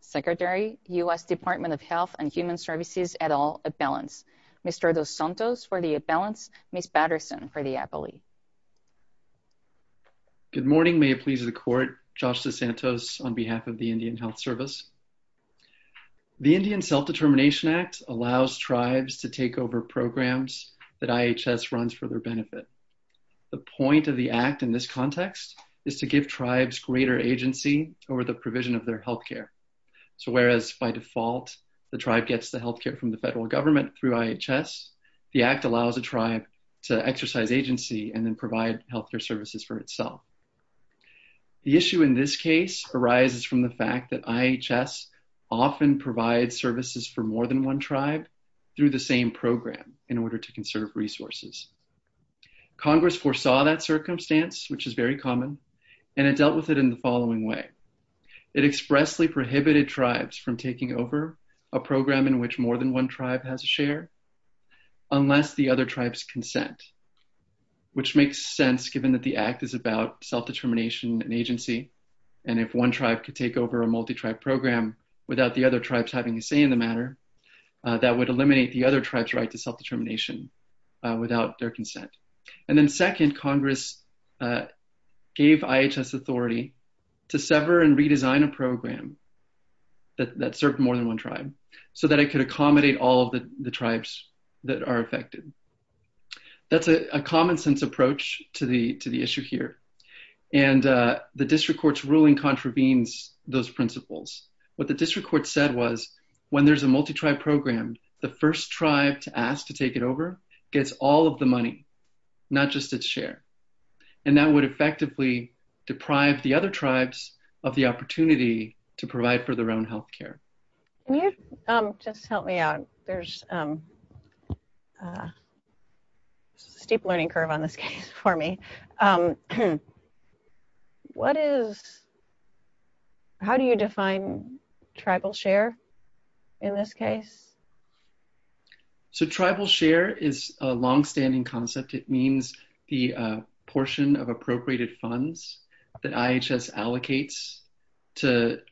Secretary, U.S. Department of Health and Human Services et al, At Balance. Mr. DeSantos for the At Balance, Ms. Patterson for the Appellee. Good morning. May it please the Court, Josh DeSantos on behalf of the Indian Health Service. The Indian Self-Determination Act allows tribes to take on the responsibility for their own health care and to take over programs that IHS runs for their benefit. The point of the Act in this context is to give tribes greater agency over the provision of their health care. So whereas by default the tribe gets the health care from the federal government through IHS, the Act allows a tribe to exercise agency and then provide health care services for itself. The issue in this case arises from the fact that IHS often provides services for more than one tribe through the same program in order to conserve resources. Congress foresaw that circumstance, which is very common, and it dealt with it in the following way. It expressly prohibited tribes from taking over a program in which more than one tribe has a share unless the other tribes consent, which makes sense given that the Act is about self-determination and agency and if one tribe could take over a multi-tribe program without the other tribes having a say in the matter, that would eliminate the other tribe's right to self-determination without their consent. And then second, Congress gave IHS authority to sever and redesign a program that served more than one tribe so that it could accommodate all of the tribes that are affected. That's a common-sense approach to the issue here, and the district court's ruling contravenes those principles. What the district court said was when there's a multi-tribe program, the first tribe to ask to take it over gets all of the money, not just its share, and that would effectively deprive the other tribes of the opportunity to provide for their own health care. Can you just help me out? There's a steep learning curve on this case for me. How do you define tribal share in this case? Tribal share is a long-standing concept. It means the portion of appropriated funds that IHS allocates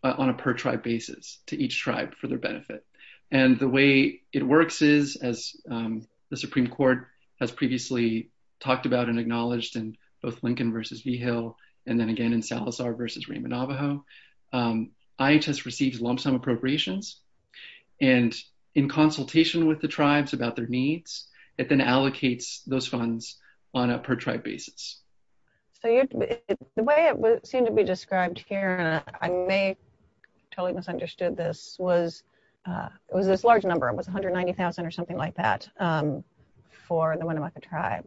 on a per-tribe basis to each tribe for their benefit. The way it works is, as the Supreme Court has previously talked about and acknowledged in both Lincoln v. Vigil and then again in Salazar v. Raymond Navajo, IHS receives lump-sum appropriations, and in consultation with the tribes about their needs, it then allocates those funds on a per-tribe basis. The way it seemed to be described here, and I may have totally misunderstood this, was it was this large number. It was $190,000 or something like that for the Winnemucca tribe.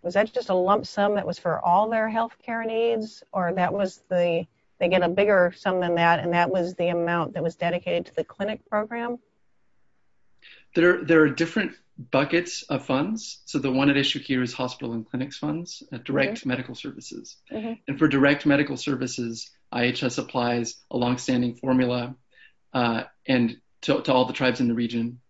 Was that just a lump sum that was for all their health care needs? Or they get a bigger sum than that, and that was the amount that was dedicated to the clinic program? There are different buckets of funds. The one at issue here is hospital and clinics funds, direct medical services. For direct medical services, IHS applies a long-standing formula to all the tribes in the region.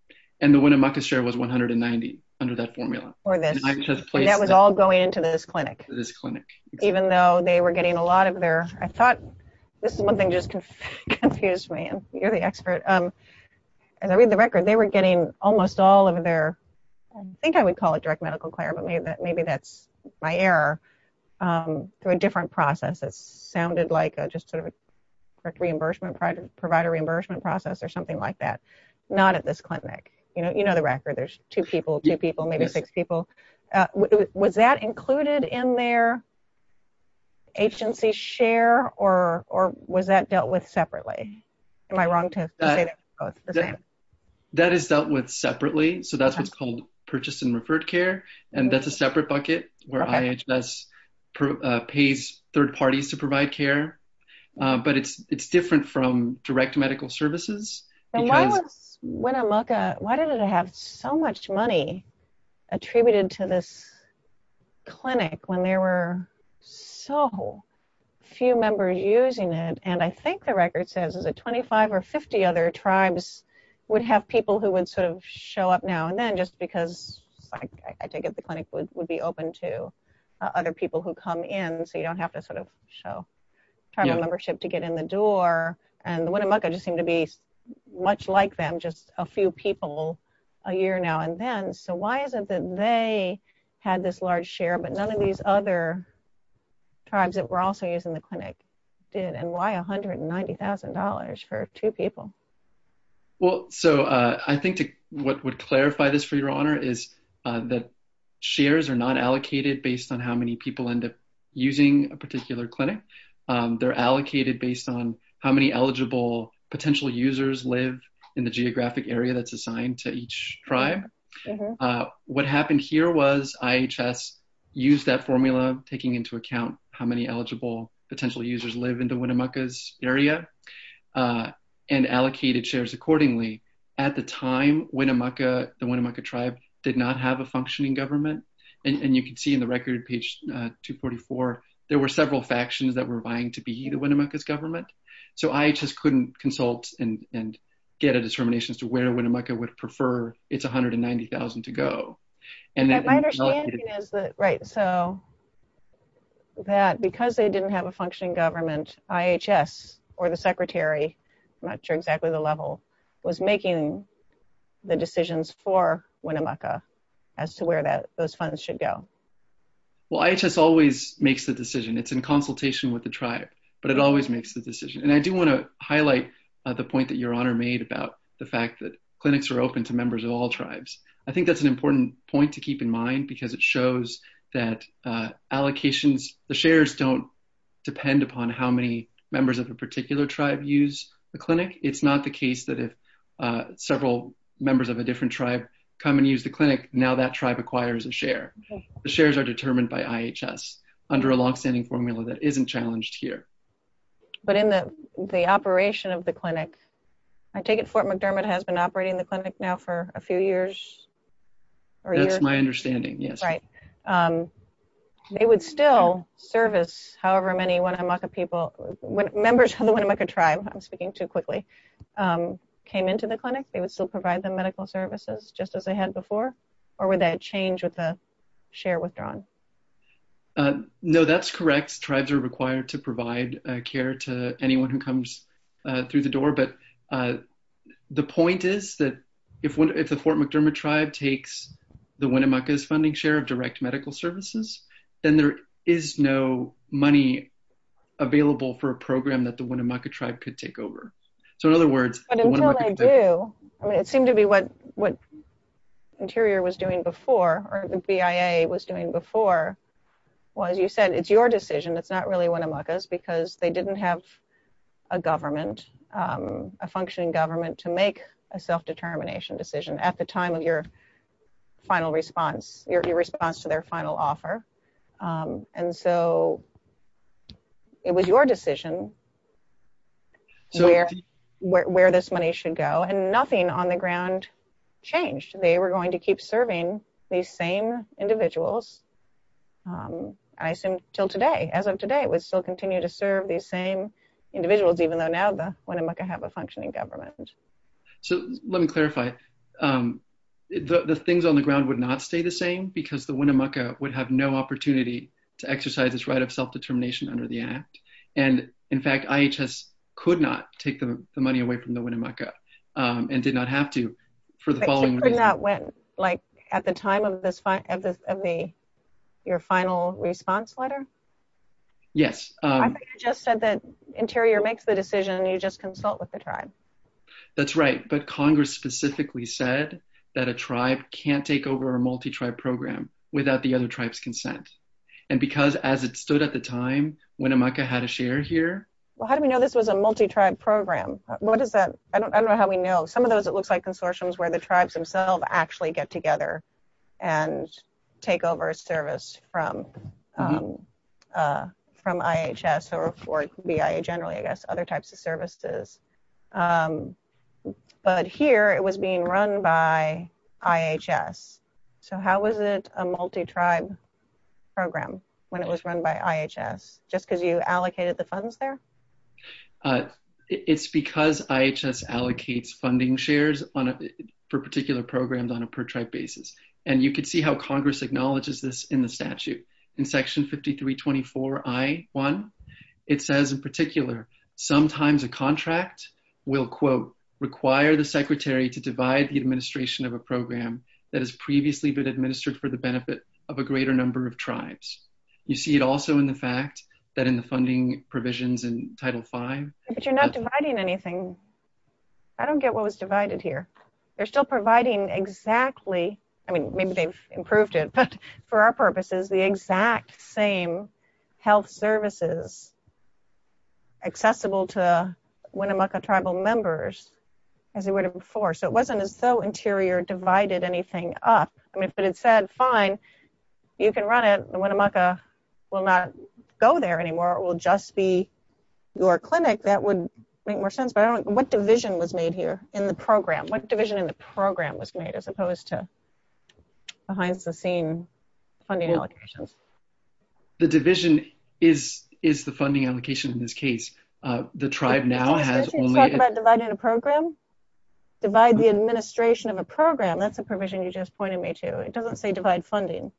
The Winnemucca share was $190,000 under that formula. That was all going into this clinic, even though they were getting a lot of their... This is one thing that just confused me, and you're the expert. As I read the record, they were getting almost all of their, I think I would call it direct medical care, but maybe that's my error, through a different process. It sounded like just a direct reimbursement, provider reimbursement process or something like that. Not at this clinic. You know the record. There's two people, two people, maybe six people. Was that included in their agency share, or was that dealt with separately? Am I wrong to say they're both the same? That is dealt with separately, so that's what's called purchase and referred care, and that's a separate bucket where IHS pays third parties to provide care, but it's different from direct medical services. Why was Winnemucca, why did it have so much money attributed to this clinic when there were so few members using it? I think the record says that 25 or 50 other tribes would have people who would show up now and then, just because I take it the clinic would be open to other people who come in, so you don't have to show tribal membership to get in the door. The Winnemucca just seem to be much like them, just a few people a year now and then, so why is it that they had this large share but none of these other tribes that were also using the clinic did? Why $190,000 for two people? I think what would clarify this for your honor is that shares are not allocated based on how many people end up using a particular clinic. They're allocated based on how many eligible potential users live in the geographic area that's assigned to each tribe. What happened here was IHS used that formula, taking into account how many eligible potential users live in the Winnemucca's area, and allocated shares accordingly. At the time, the Winnemucca tribe did not have a functioning government, and you can see in the record, page 244, there were several factions that were vying to be the Winnemucca's government, so IHS couldn't consult and get a determination as to where Winnemucca would prefer its $190,000 to go. My understanding is that because they didn't have a functioning government, IHS or the secretary, I'm not sure exactly the level, was making the decisions for Winnemucca as to where those funds should go. Well, IHS always makes the decision. It's in consultation with the tribe, but it always makes the decision, and I do want to highlight the point that your honor made about the fact that clinics are open to members of all tribes. I think that's an important point to keep in mind because it shows that allocations, the shares don't depend upon how many members of a particular tribe use the clinic. It's not the case that if several members of a different tribe come and use the clinic, now that tribe acquires a share. The shares are determined by IHS under a longstanding formula that isn't challenged here. But in the operation of the clinic, I take it Fort McDermott has been operating the clinic now for a few years? That's my understanding, yes. Right. They would still service however many Winnemucca people, members of the Winnemucca tribe. I'm speaking too quickly. Came into the clinic, they would still provide them medical services just as they had before? Or would that change with the share withdrawn? No, that's correct. Tribes are required to provide care to anyone who comes through the door. But the point is that if the Fort McDermott tribe takes the Winnemucca's funding share of direct medical services, then there is no money available for a program that the Winnemucca tribe could take over. So in other words, But until they do, it seemed to be what Interior was doing before, or the BIA was doing before, was you said it's your decision. It's not really Winnemucca's because they didn't have a government, a functioning government to make a self-determination decision at the time of your final response, your response to their final offer. And so it was your decision where this money should go. And nothing on the ground changed. They were going to keep serving these same individuals, I assume, until today. As of today, we still continue to serve these same individuals, even though now the Winnemucca have a functioning government. So let me clarify. The things on the ground would not stay the same because the Winnemucca would have no opportunity to exercise its right of self-determination under the act. And in fact, IHS could not take the money away from the Winnemucca and did not have to for the following reason. Like at the time of your final response letter? Yes. I just said that Interior makes the decision and you just consult with the tribe. That's right. But Congress specifically said that a tribe can't take over a multi-tribe program without the other tribe's consent. And because as it stood at the time, Winnemucca had a share here. Well, how do we know this was a multi-tribe program? What is that? I don't know how we know. Some of those it looks like consortiums where the tribes themselves actually get together and take over a service from IHS or BIA generally, I guess, other types of services. But here it was being run by IHS. So how was it a multi-tribe program when it was run by IHS? Just because you allocated the funds there? It's because IHS allocates funding shares for particular programs on a per-tribe basis. And you can see how Congress acknowledges this in the statute. In Section 5324I.1, it says in particular, sometimes a contract will, quote, require the secretary to divide the administration of a program that has previously been administered for the benefit of a greater number of tribes. You see it also in the fact that in the funding provisions in Title V. But you're not dividing anything. I don't get what was divided here. They're still providing exactly, I mean, maybe they've improved it, but for our purposes, the exact same health services accessible to Winnemucca tribal members as they would have before. So it wasn't as though Interior divided anything up. I mean, if it had said, fine, you can run it, Winnemucca will not go there anymore. It will just be your clinic, that would make more sense. But what division was made here in the program? What division in the program was made as opposed to behind-the-scenes funding allocations? The division is the funding allocation in this case. The tribe now has only- Did you talk about dividing a program? Divide the administration of a program. That's a provision you just pointed me to. It doesn't say divide funding.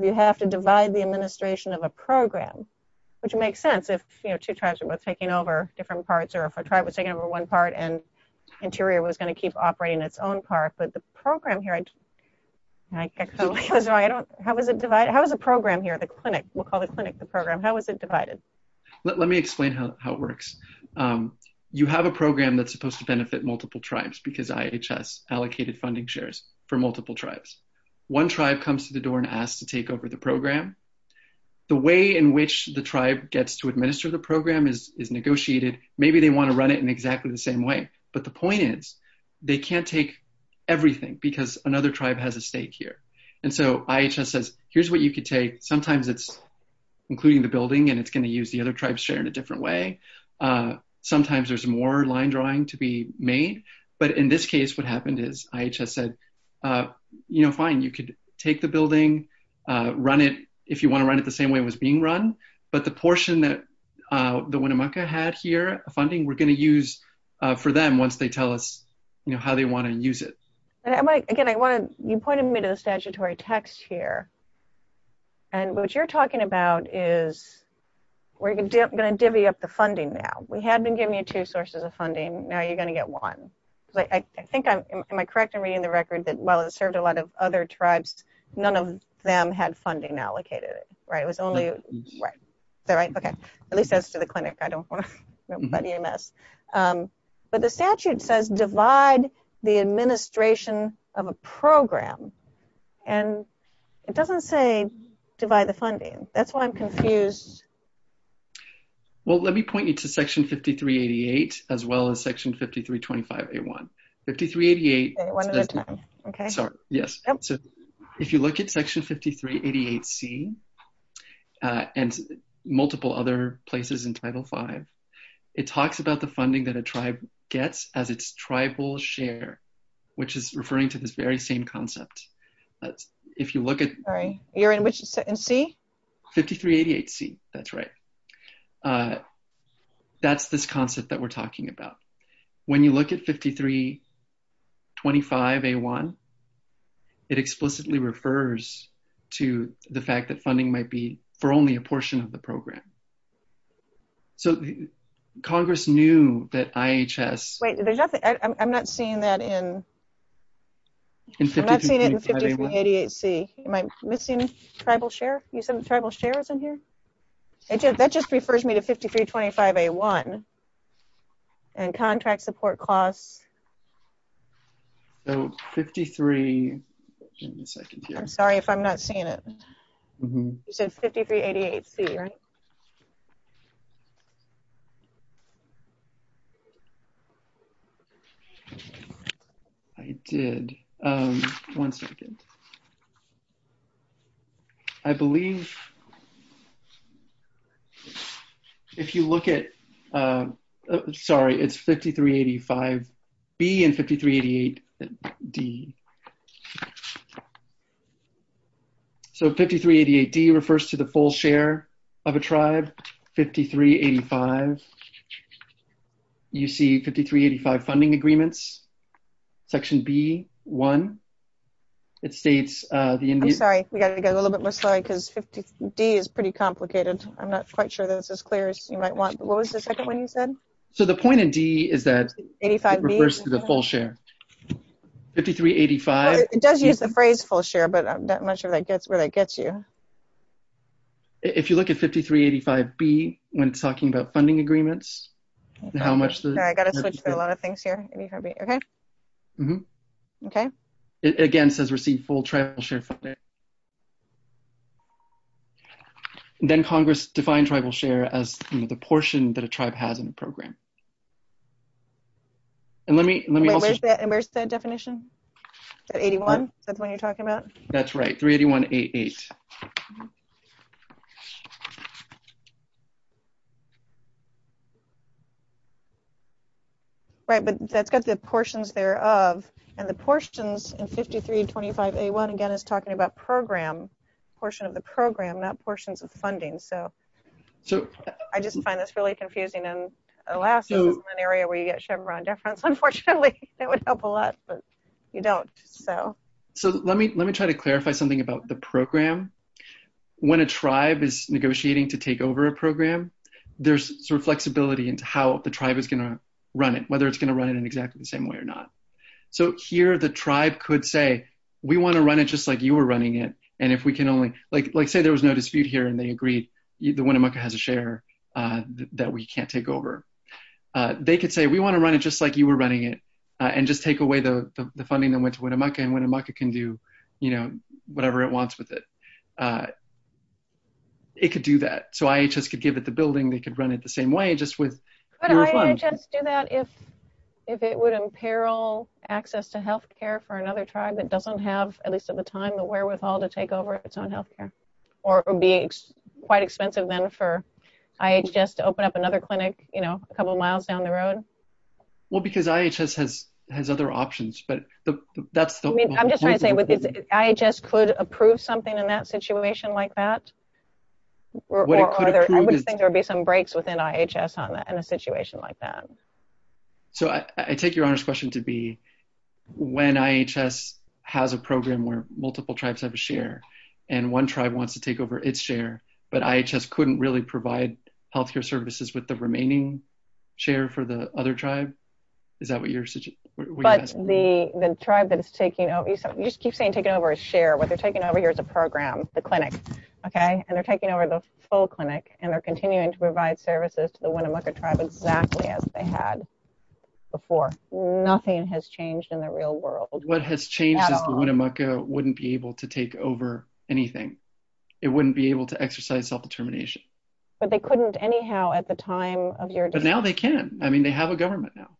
You have to divide the administration of a program, which makes sense if two tribes were both taking over different parts or if a tribe was taking over one part and Interior was going to keep operating its own part. But the program here, I don't- how was it divided? How was the program here, the clinic? We'll call the clinic the program. How was it divided? Let me explain how it works. You have a program that's supposed to benefit multiple tribes because IHS allocated funding shares for multiple tribes. One tribe comes to the door and asks to take over the program. The way in which the tribe gets to administer the program is negotiated. Maybe they want to run it in exactly the same way. But the point is, they can't take everything because another tribe has a stake here. And so IHS says, here's what you could take. Sometimes it's including the building and it's going to use the other tribe's share in a different way. Sometimes there's more line drawing to be made. But in this case, what happened is IHS said, you know, fine, you could take the building, run it if you want to run it the same way it was being run. But the portion that the Winnemucca had here, funding, we're going to use for them once they tell us, you know, how they want to use it. Again, you pointed me to the statutory text here. And what you're talking about is we're going to divvy up the funding now. We had been giving you two sources of funding. Now you're going to get one. I think I'm, am I correct in reading the record that while it served a lot of other tribes, none of them had funding allocated, right? It was only, right. Is that right? Okay. At least that's to the clinic. I don't want to buddy a mess. But the statute says divide the administration of a program. And it doesn't say divide the funding. That's why I'm confused. Well, let me point you to Section 5388, as well as Section 5325A1. 5388. One at a time. Okay. Yes. If you look at Section 5388C and multiple other places in Title V, it talks about the funding that a tribe gets as its tribal share, which is referring to this very same concept. If you look at. You're in which, in C? 5388C. That's right. That's this concept that we're talking about. When you look at 5325A1, it explicitly refers to the fact that funding might be for only a portion of the program. So Congress knew that IHS. Wait, there's nothing. I'm not seeing that in. I'm not seeing it in 5388C. Am I missing tribal share? You said tribal share is in here? That just refers me to 5325A1. And contract support costs. So, 53. I'm sorry if I'm not seeing it. You said 5388C, right? I did. One second. I believe if you look at. Sorry, it's 5385B and 5388D. So, 5388D refers to the full share of a tribe. 5385. You see 5385 funding agreements. So, if you look at 5385B and 5385D, it's section B1. I'm sorry, we've got to go a little bit more slowly because 50D is pretty complicated. I'm not quite sure this is clear as you might want. What was the second one you said? So, the point of D is that it refers to the full share. 5385. It does use the phrase full share, but I'm not sure where that gets you. If you look at 5385B, when it's talking about funding agreements, how much. I've got to switch to a lot of things here. Okay. Okay. Again, it says receive full tribal share funding. Then Congress defined tribal share as the portion that a tribe has in the program. And let me. Where's the definition? 81? Is that the one you're talking about? That's right. 38188. Right, but that's got the portions thereof. And the portions in 5325A1, again, is talking about program, portion of the program, not portions of funding. So, I just find this really confusing. And alas, this is an area where you get Chevron deference, unfortunately. That would help a lot, but you don't. So, let me try to clarify something about the program. When a tribe is negotiating to take over a program, there's sort of flexibility into how the tribe is going to run it, whether it's going to run it in exactly the same way or not. So, here the tribe could say, we want to run it just like you were running it. And if we can only, like say there was no dispute here and they agreed, the Winnemucca has a share that we can't take over. They could say, we want to run it just like you were running it and just take away the funding that went to Winnemucca and Winnemucca can do, you know, whatever it wants with it. It could do that. So, IHS could give it the building, they could run it the same way, just with. Could IHS do that if it would imperil access to health care for another tribe that doesn't have, at least at the time, the wherewithal to take over its own health care? Or it would be quite expensive then for IHS to open up another clinic, you know, a couple miles down the road? Well, because IHS has other options, but that's the. I'm just trying to say, IHS could approve something in that situation like that? I would think there would be some breaks within IHS on that in a situation like that. So, I take your Honor's question to be when IHS has a program where multiple tribes have a share and one tribe wants to take over its share, but IHS couldn't really provide health care services with the remaining share for the other tribe? Is that what you're suggesting? But the tribe that is taking over, you just keep saying taking over a share, what they're taking over here is a program, the clinic, okay? And they're taking over the full clinic and they're continuing to provide services to the Winnemucca tribe exactly as they had before. Nothing has changed in the real world. What has changed is the Winnemucca wouldn't be able to take over anything. It wouldn't be able to exercise self-determination. But they couldn't anyhow at the time of your decision? But now they can. I mean, they have a government now.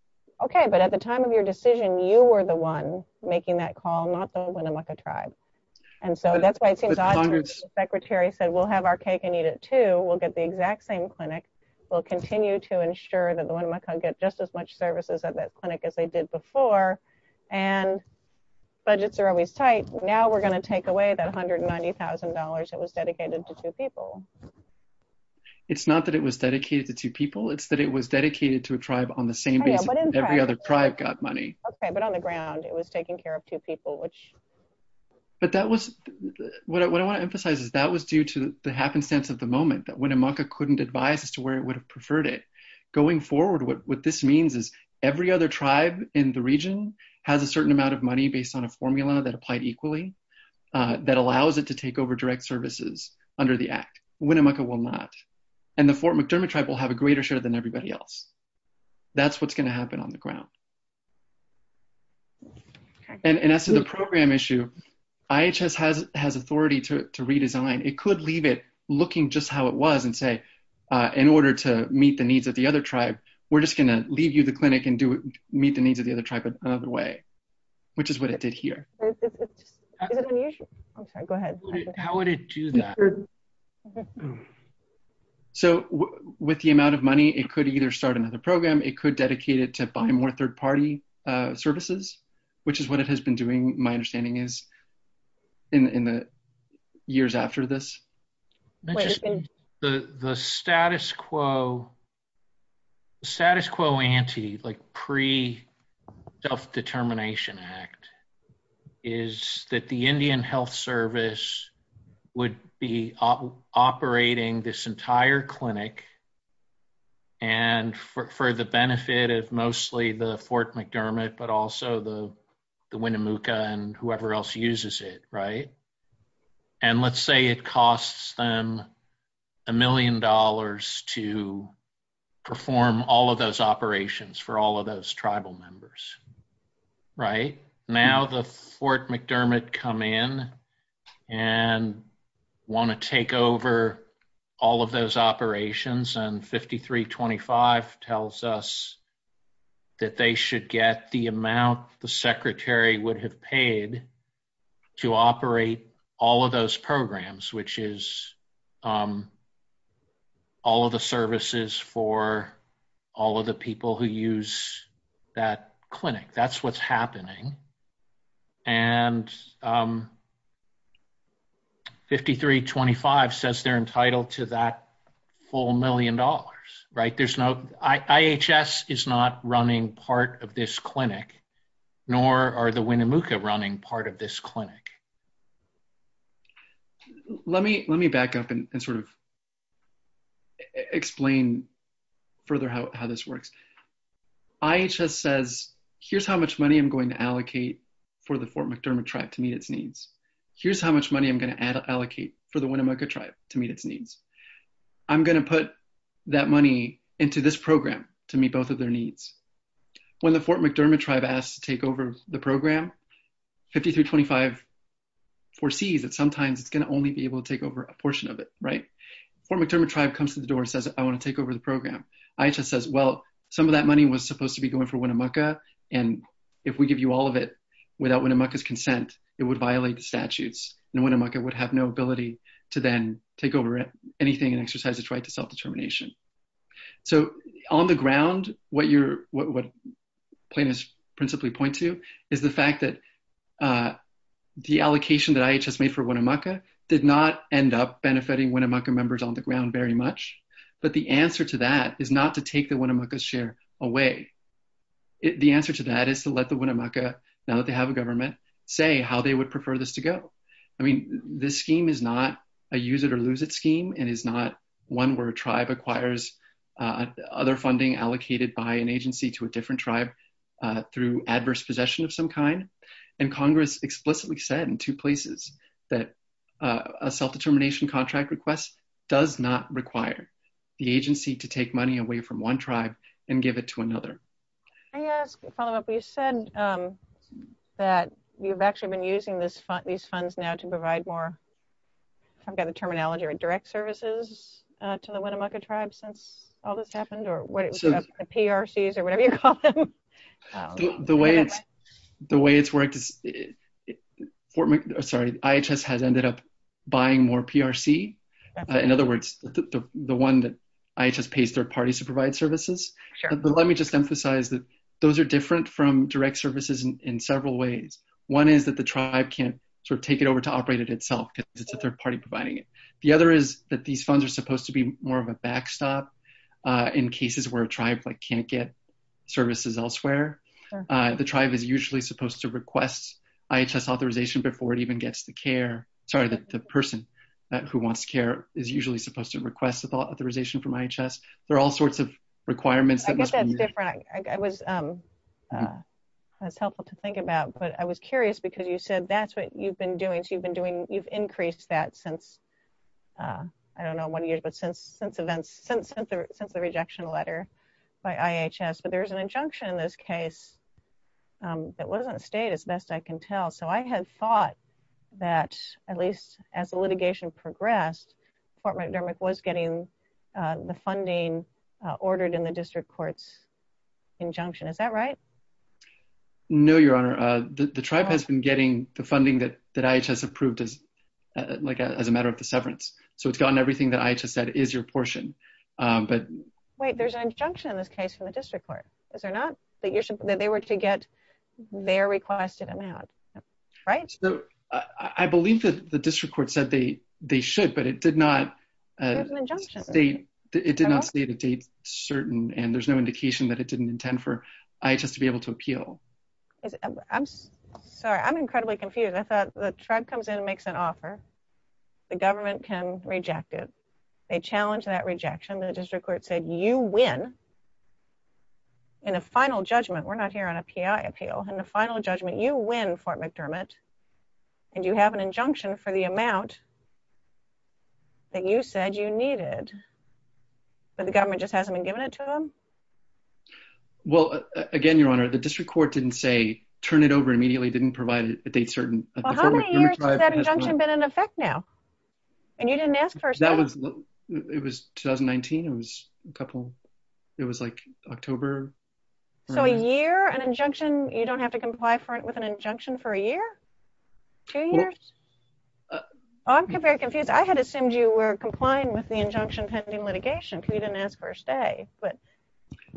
Okay, but at the time of your decision, you were the one making that call, not the Winnemucca tribe. And so that's why it seems odd that the secretary said, we'll have our cake and eat it too. We'll get the exact same clinic. We'll continue to ensure that the Winnemucca get just as much services at that clinic as they did before. And budgets are always tight. Now we're going to take away that $190,000 that was dedicated to two people. It's not that it was dedicated to two people. It's that it was dedicated to a tribe on the same basis that every other tribe got money. Okay, but on the ground, it was taking care of two people, which... But that was... What I want to emphasize is that was due to the happenstance of the moment that Winnemucca couldn't advise as to where it would have preferred it. Going forward, what this means is every other tribe in the region has a certain amount of money based on a formula that applied equally that allows it to take over direct services under the act. Winnemucca will not. And the Fort McDermott tribe will have a greater share than everybody else. That's what's going to happen on the ground. And as to the program issue, IHS has authority to redesign. It could leave it looking just how it was and say, in order to meet the needs of the other tribe, we're just going to leave you the clinic and meet the needs of the other tribe another way, which is what it did here. Is it unusual? I'm sorry, go ahead. How would it do that? So with the amount of money, it could either start another program. It could dedicate it to buy more third party services, which is what it has been doing. My understanding is. In the years after this. The status quo. Status quo ante, like pre self determination act. Is that the Indian health service would be operating this entire clinic. And for the benefit of mostly the Fort McDermott, but also the Winnemucca and whoever else uses it. Right. And let's say it costs them. A million dollars to. Perform all of those operations for all of those tribal members. Right now, the Fort McDermott come in. And. They want to take over. All of those operations and 53 25 tells us. That they should get the amount the secretary would have paid. To operate all of those programs, which is. All of the services for all of the people who use that clinic. That's what's happening. And. 53 25 says they're entitled to that full million dollars, right? There's no IHS is not running part of this clinic. Nor are the Winnemucca running part of this clinic. Let me, let me back up and sort of. Explain further how, how this works. IHS says, here's how much money I'm going to allocate for the Fort McDermott tribe to meet its needs. Here's how much money I'm going to add, allocate for the Winnemucca tribe to meet its needs. I'm going to put that money into this program to meet both of their needs. When the Fort McDermott tribe asked to take over the program. 53 25. Foresees that sometimes it's going to only be able to take over a portion of it, right? Fort McDermott tribe comes to the door and says, I want to take over the program. IHS says, well, some of that money was supposed to be going for Winnemucca. And if we give you all of it without Winnemucca's consent, it would violate the statutes and Winnemucca would have no ability to then take over anything and exercise its right to self-determination. So on the ground, what you're, what plaintiffs principally point to is the fact that the allocation that IHS made for Winnemucca did not end up benefiting Winnemucca members on the ground very much. But the answer to that is not to take the Winnemucca's share away. The answer to that is to let the Winnemucca, now that they have a government say how they would prefer this to go. I mean, this scheme is not a use it or lose it scheme. And it's not one where a tribe acquires other funding allocated by an agency to a different tribe through adverse possession of some kind. And Congress explicitly said in two places that a self-determination contract request does not require the agency to take money away from one tribe and give it to another. Can I ask a follow up? You said that you've actually been using this fund, these funds now to provide more, I've got the terminology or direct services to the Winnemucca tribe since all this happened or what it was, the PRCs or whatever you call them. The way it's, the way it's worked is, sorry, IHS has ended up buying more PRC. In other words, the one that IHS pays third parties to provide services. But let me just emphasize that those are different from direct services in several ways. One is that the tribe can't sort of take it over to operate it itself because it's a third party providing it. The other is that these funds are supposed to be more of a backstop in cases where a tribe like can't get services elsewhere. The tribe is usually supposed to request IHS authorization before it even gets the care. Sorry that the person who wants care is usually supposed to request authorization from IHS. There are all sorts of requirements. I guess that's different. I was, that's helpful to think about, but I was curious because you said that's what you've been doing. So you've been doing, you've increased that since, I don't know, one of the years, but since, since events, since, since the rejection letter by IHS, but there's an injunction in this case that wasn't stayed as best I can tell. So I had thought that at least as the litigation progressed, Fort McDermott was getting the funding ordered in the district courts injunction. Is that right? No, Your Honor. The tribe has been getting the funding that IHS approved as like as a matter of the severance. So it's gotten everything that IHS said is your portion. But wait, there's an injunction in this case from the district court. Is there not that you're saying that they were to get their requested amount? Right. So I believe that the district court said they, they should, but it did not state it did not say the date certain and there's no indication that it didn't intend for IHS to be able to appeal. I'm sorry. I'm incredibly confused. I thought the tribe comes in and makes an offer. The government can reject it. They challenged that rejection. The district court said you win in a final judgment. We're not here on a PI appeal and the final judgment you win Fort McDermott and you have an injunction for the amount that you said you needed, but the government just hasn't been given it to them. Well, again, Your Honor, the district court didn't say, turn it over immediately didn't provide a date certain. How many years has that injunction been in effect now? And you didn't ask for it. It was 2019. It was a couple, it was like October. So a year, an injunction, you don't have to comply for it with an injunction for a year, two years. I'm very confused. I had assumed you were complying with the injunction pending litigation. You didn't ask for a stay, but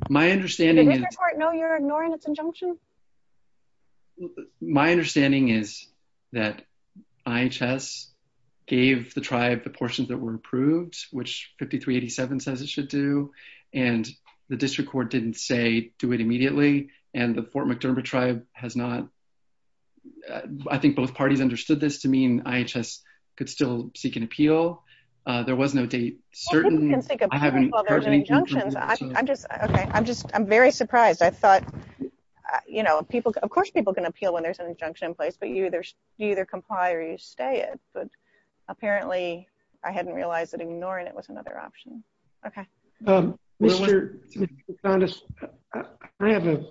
my understanding. No, you're ignoring its injunction. My understanding is that IHS gave the tribe, the portions that were approved, which 53 87 says it should do. And the district court didn't say do it immediately. And the Fort McDermott tribe has not, I think both parties understood this to mean IHS could still seek an appeal. There was no date certain. I'm just, okay. I'm just, I'm very surprised. I thought, you know, people, of course, people can appeal when there's an injunction in place, but you either, you either comply or you stay it. Apparently I hadn't realized that ignoring it was another option. Okay. Mr. I have a,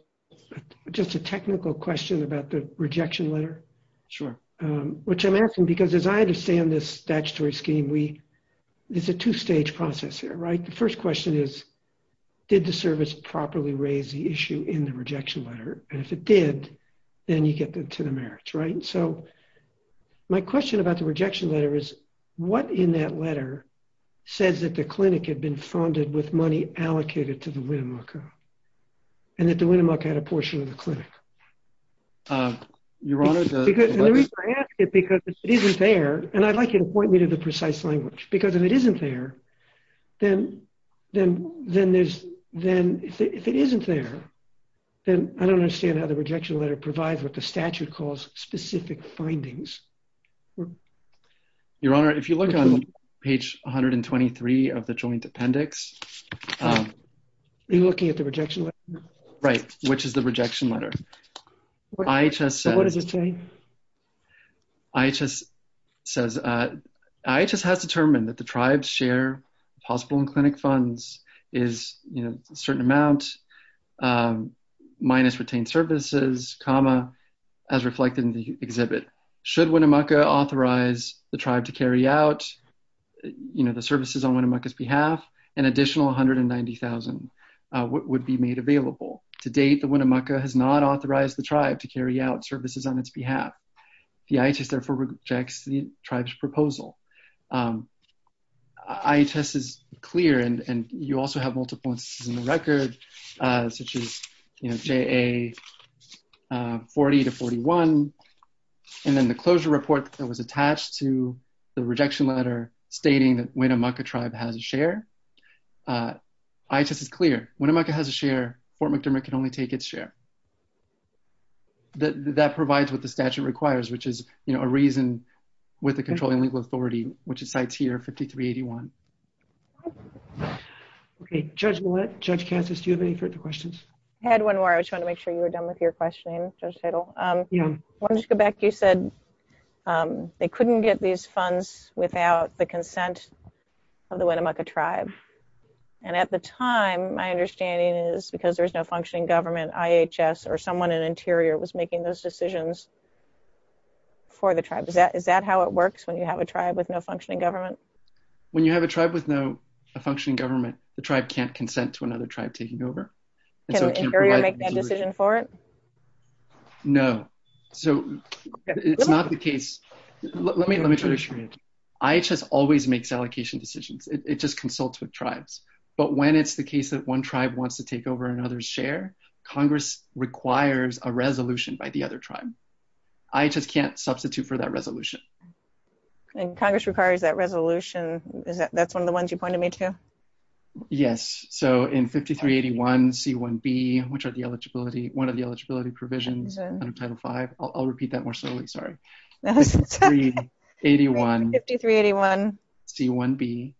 just a technical question about the rejection letter. Sure. Which I'm asking because as I understand this statutory scheme, we, it's a two stage process here, right? The first question is, did the service properly raise the issue in the rejection letter? And if it did, then you get them to the merits, right? So my question about the rejection letter is what in that letter says that the clinic had been funded with money allocated to the Winnemucca and that the Winnemucca had a portion of the clinic. Your Honor. Because it isn't fair. And I'd like you to point me to the precise language because if it isn't there, then, then, then there's, then if it isn't there, then I don't understand how the rejection letter provides what the statute calls specific findings. Your Honor, if you look on page 123 of the joint appendix, Are you looking at the rejection letter? Right. Which is the rejection letter. IHS says, IHS has determined that the tribe's share of hospital and clinic funds is, you know, a certain amount minus retained services, comma as reflected in the exhibit. Should Winnemucca authorize the tribe to carry out, you know, the services on Winnemucca's behalf, an additional 190,000 would be made available. To date, the Winnemucca has not authorized the tribe to carry out services on its behalf. The IHS therefore rejects the tribe's proposal. IHS is clear and you also have multiple instances in the record such as, you know, JA 40 to 41. And then the closure report that was attached to the rejection letter stating that Winnemucca tribe has a share. IHS is clear. Winnemucca has a share, Fort McDermott can only take its share. That provides what the statute requires, which is, you know, a reason with the controlling legal authority, which it cites here, 5381. Okay. Judge, Judge Kansas, do you have any further questions? I had one more. I just want to make sure you were done with your questioning. Yeah. Let's go back. You said they couldn't get these funds without the consent of the Winnemucca tribe. And at the time my understanding is because there's no functioning government, IHS or someone in interior was making those decisions. For the tribe. Is that, is that how it works when you have a tribe with no functioning government? When you have a tribe with no functioning government, the tribe can't consent to another tribe taking over. Can the interior make that decision for it? No. So it's not the case. Let me, let me try to explain. IHS always makes allocation decisions. It just consults with tribes, but when it's the case that one tribe wants to take over another's share, Congress requires a resolution by the other tribe. IHS can't substitute for that resolution. And Congress requires that resolution. Is that, that's one of the ones you pointed me to? Yes. So in 5381 C1B, which are the eligibility, one of the eligibility provisions under title five, I'll repeat that more slowly. Sorry. 5381 C1B.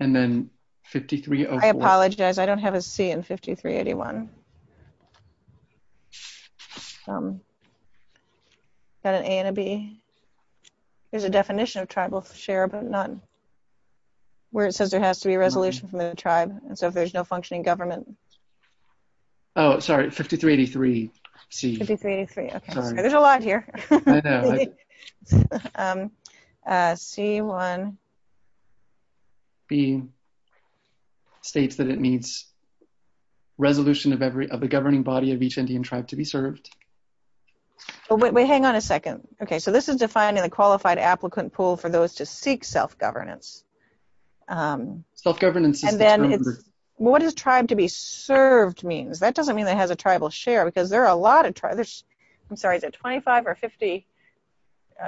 And then 5304. I apologize. I don't have a C in 5381. Got an A and a B. There's a definition of tribal share, but none. Where it says there has to be a resolution from the tribe. And so if there's no functioning government. Oh, sorry. 5383 C. There's a lot here. C1B states that it needs resolution of every, of the governing body of each Indian tribe to be served. Wait, hang on a second. Okay. So this is defined in the qualified applicant pool for those to seek self-governance. Self-governance. What does tribe to be served means? That doesn't mean that it has a tribal share because there are a lot of tribes. I'm sorry. Is it 25 or 50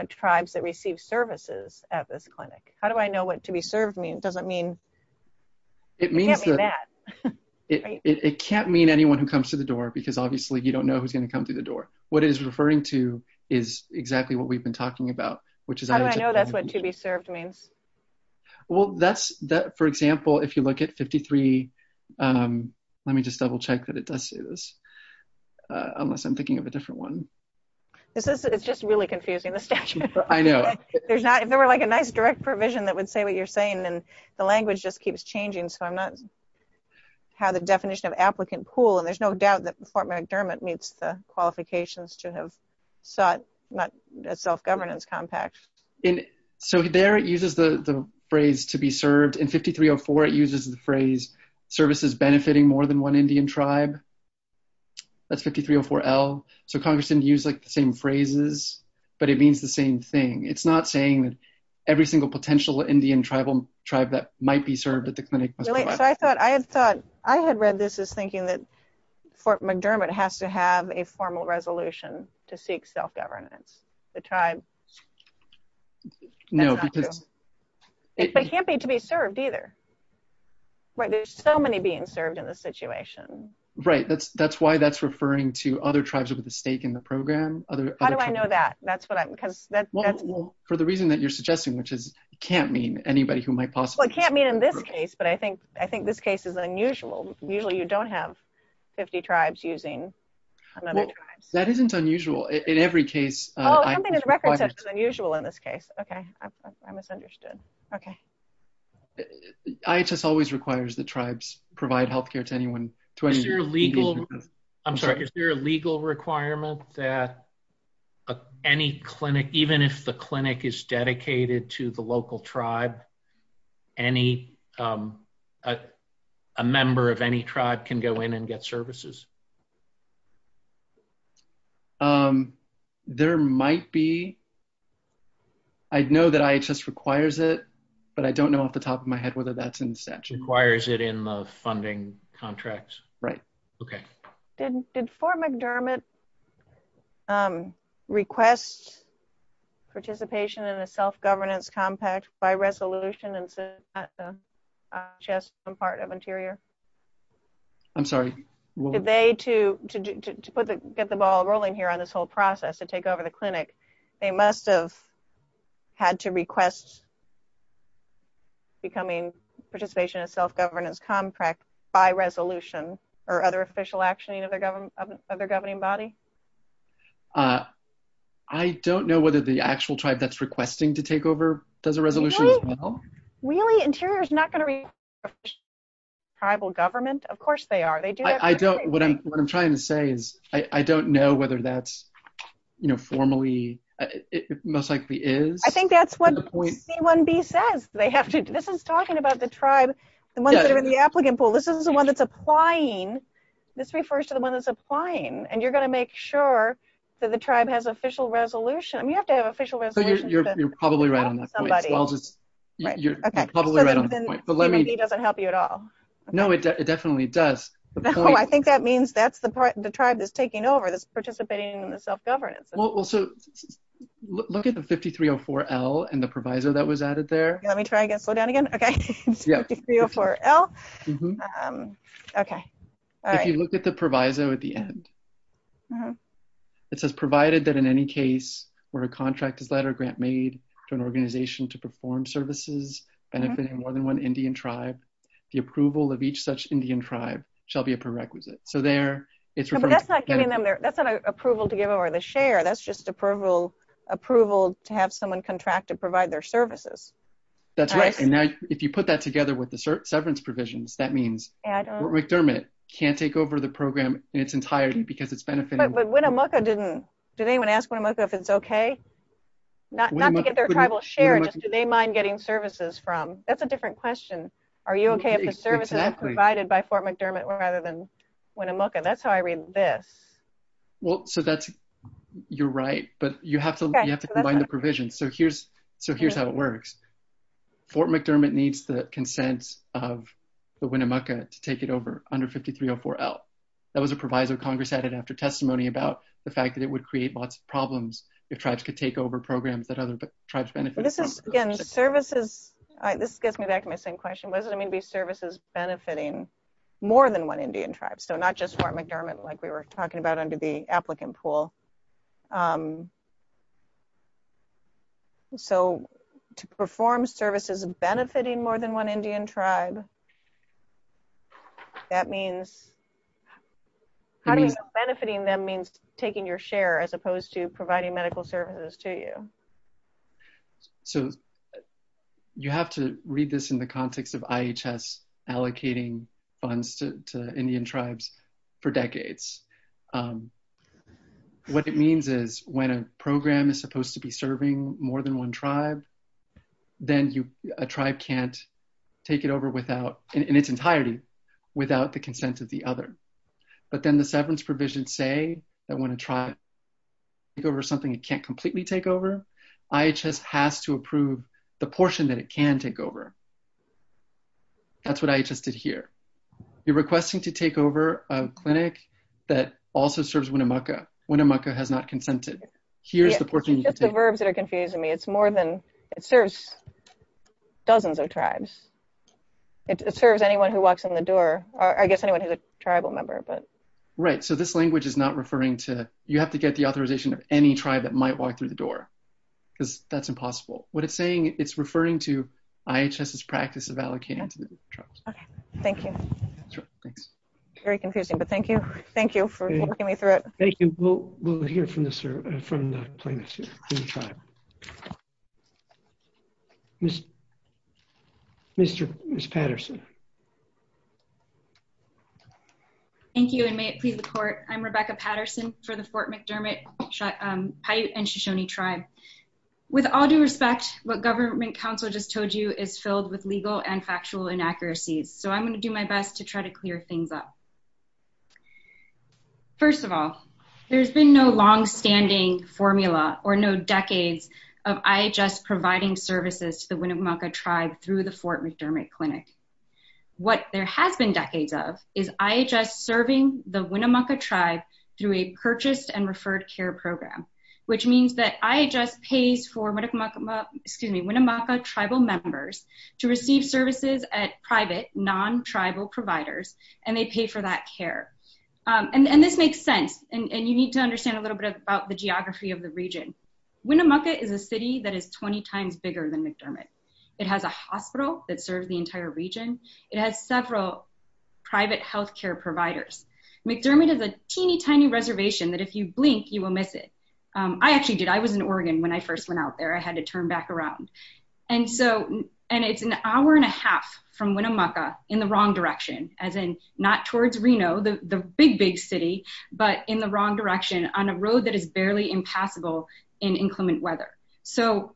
tribes that receive services at this clinic? How do I know what to be served means? I'm sorry. It doesn't mean. It means. It can't mean anyone who comes to the door because obviously you don't know who's going to come through the door. What is referring to is exactly what we've been talking about, which is. I know that's what to be served means. Well, that's that, for example, if you look at 53. Let me just double check that it does say this. Unless I'm thinking of a different one. This is, it's just really confusing. I'm sorry. I know. There's not, if there were like a nice direct provision that would say what you're saying and the language just keeps changing. So I'm not. How the definition of applicant pool. And there's no doubt that the Fort McDermott meets the qualifications to have sought. Not a self-governance compact. So there it uses the phrase to be served in 53 or four. And there it uses the phrase services benefiting more than one Indian tribe. That's 53 or four L. So Congress didn't use like the same phrases. But it means the same thing. It's not saying that. Every single potential Indian tribal tribe that might be served at the clinic. So I thought I had thought I had read this as thinking that. Fort McDermott has to have a formal resolution to seek self-governance. The tribe. No. I don't know. It can't be to be served either. Right. There's so many being served in this situation. Right. That's that's why that's referring to other tribes over the stake in the program. How do I know that? That's what I'm because that's. For the reason that you're suggesting, which is can't mean anybody who might possibly can't mean in this case, but I think, I think this case is unusual. Usually you don't have 50 tribes using. I don't know. I don't know. That isn't unusual in every case. Unusual in this case. Okay. I misunderstood. Okay. I just always requires the tribes provide healthcare to anyone. I'm sorry. Is there a legal requirement that. Any clinic, even if the clinic is dedicated to the local tribe. I'm sorry. Even if the clinic is dedicated to the local tribe. Any. A member of any tribe can go in and get services. There might be. I know that I just requires it. But I don't know off the top of my head, whether that's in section requires it in the funding contract. Right. Okay. Okay. Did, did four McDermott. Requests. Participation in a self-governance compact by resolution and. Just some part of interior. I'm sorry. Did they to, to, to, to, to put the, get the ball rolling here on this whole process to take over the clinic. They must've. Had to request. I'm sorry. Did they have to request. Becoming participation in self-governance compact. By resolution or other official action of their government of their governing body. I don't know whether the actual tribe that's requesting to take over does a resolution. Really interior is not going to read. Tribal government. Of course they are. They do. I don't, what I'm, what I'm trying to say is I don't know whether that's. You know, clinic is going to do that. You know, formally. It most likely is. I think that's what. One B says they have to do. This is talking about the tribe. The ones that are in the applicant pool. This is the one that's applying. This refers to the one that's applying and you're going to make sure. That the tribe has official resolution. You have to have official resolution. You're probably right. I'll just. You're probably right. But let me, he doesn't help you at all. No, it definitely does. I think that means that's the part of the tribe that's taking over this participating in the self-governance. Well, so. Look at the 5,304 L and the proviso that was added there. Let me try again. Slow down again. Okay. Yeah. For L. Okay. All right. You look at the proviso at the end. It says provided that in any case where a contract is letter grant made To an organization to perform services. Benefiting more than one Indian tribe. The approval of each such Indian tribe. Shall be a prerequisite. So there. That's not giving them there. That's not an approval to give over the share. That's just approval. Approval to have someone contract to provide their services. That's right. And now if you put that together with the certain severance provisions, that means. Yeah, I don't know. Can't take over the program in its entirety because it's benefiting. Okay. But when a Mucka didn't, did anyone ask when I'm like, if it's okay. Not to get their tribal share. Do they mind getting services from that's a different question. Are you okay? Provided by Fort McDermott rather than when a Mucka that's how I read this. Well, so that's. You're right, but you have to, you have to combine the provisions. So here's, so here's how it works. So here's how it works. Fort McDermott needs the consent of. The Winnemucca to take it over under 5304 L. That was a provisor of Congress added after testimony about the fact that it would create lots of problems. If tribes could take over programs that other tribes benefit. Services. This gets me back to my same question. What does it mean to be services benefiting? More than one Indian tribes. So not just for McDermott. It's for all tribes. It's for all tribes. It's different. Like we were talking about under the applicant pool. So to perform services benefiting more than one Indian tribe. That means. Benefiting them means taking your share as opposed to providing medical services to you. So. You have to read this in the context of IHS allocating funds to, to Indian tribes. For decades. What it means is when a program is supposed to be serving more than one tribe. Then you, a tribe can't. Take it over without in its entirety. Without the consent of the other. But then the severance provision say that when a tribe. Can't. Take over something. It can't completely take over. IHS has to approve. The portion that it can take over. That's what I just did here. You're requesting to take over a clinic. That also serves Winnemucca. Winnemucca has not consented. Here's the portion. The verbs that are confusing me. It's more than it serves. Dozens of tribes. It serves anyone who walks in the door. I guess anyone who's a tribal member, but right. So this language is not referring to. You have to get the authorization of any tribe that might walk through the door. Because that's impossible. What it's saying. It's referring to IHS practice of allocating. Okay. Thank you. Thanks. Very confusing, but thank you. Thank you for. Thank you. We'll hear from the, sir. From the plaintiffs. Thank you. Thank you. Thank you. Thank you. Mr. Mr. Patterson. Thank you. And may it please the court. I'm Rebecca Patterson. For the Fort McDermott. Hi and Shoshone tribe. With all due respect, what government council just told you is filled with legal and factual inaccuracies. So I'm going to do my best to try to clear things up. First of all, there's been no longstanding formula or no decades. I just providing services to the Winnemucca tribe through the Fort McDermott clinic. What there has been decades of is IHS serving the Winnemucca tribe. And I just paid for medical mock-up. Excuse me, Winnemucca tribal members to receive services at private non-tribal providers. And they pay for that care. And this makes sense. And you need to understand a little bit about the geography of the region. Winnemucca is a city that is 20 times bigger than McDermott. It has a hospital that serves the entire region. It has several. Health care providers. McDermott is a teeny tiny reservation that if you blink, you will miss it. I actually did. I was in Oregon when I first went out there, I had to turn back around. And so, and it's an hour and a half from Winnemucca in the wrong direction, as in not towards Reno, the, the big, big city, but in the wrong direction on a road that is barely impassable in inclement weather. So.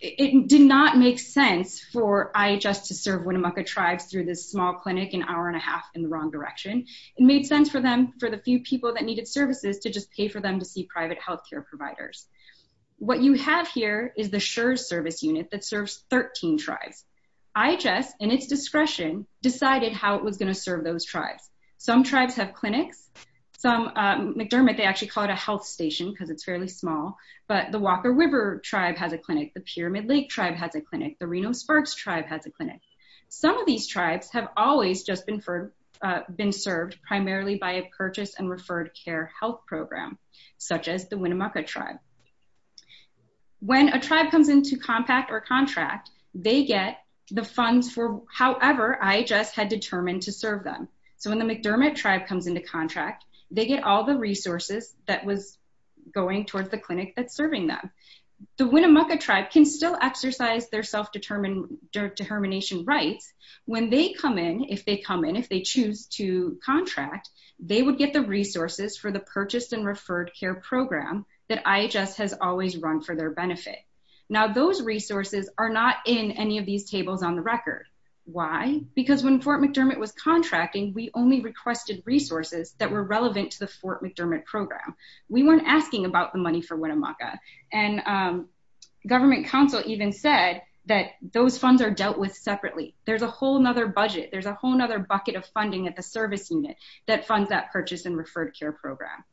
It did not make sense for IHS to serve Winnemucca tribes through this small clinic and hour and a half in the wrong direction. It made sense for them for the few people that needed services to just pay for them to see private healthcare providers. What you have here is the sure service unit that serves 13 tribes. I just, and it's discretion decided how it was going to serve those tribes. Some tribes have clinics. Some McDermott, they actually call it a health station. Cause it's fairly small, but the Walker river tribe has a clinic. The pyramid lake tribe has a clinic. The Reno sparks tribe has a clinic. Some of these tribes have always just been for, been served primarily by a purchase and referred care health program, such as the Winnemucca tribe. When a tribe comes into compact or contract, they get the funds for, however, I just had determined to serve them. So when the McDermott tribe comes into contract, they get all the resources that was going towards the clinic. That's serving them. The Winnemucca tribe can still exercise their self-determined dirt determination rights. When they come in, if they come in, if they choose to contract, they would get the resources for the purchased and referred care program that IHS has always run for their benefit. Now those resources are not in any of these tables on the record. Why? Because when Fort McDermott was contracting, we only requested resources that were relevant to the Fort McDermott program. We weren't asking about the money for Winnemucca. And government council even said that those funds are dealt with separately. There's a whole nother budget. There's a whole nother bucket of funding at the service unit that funds that purchase and referred care program.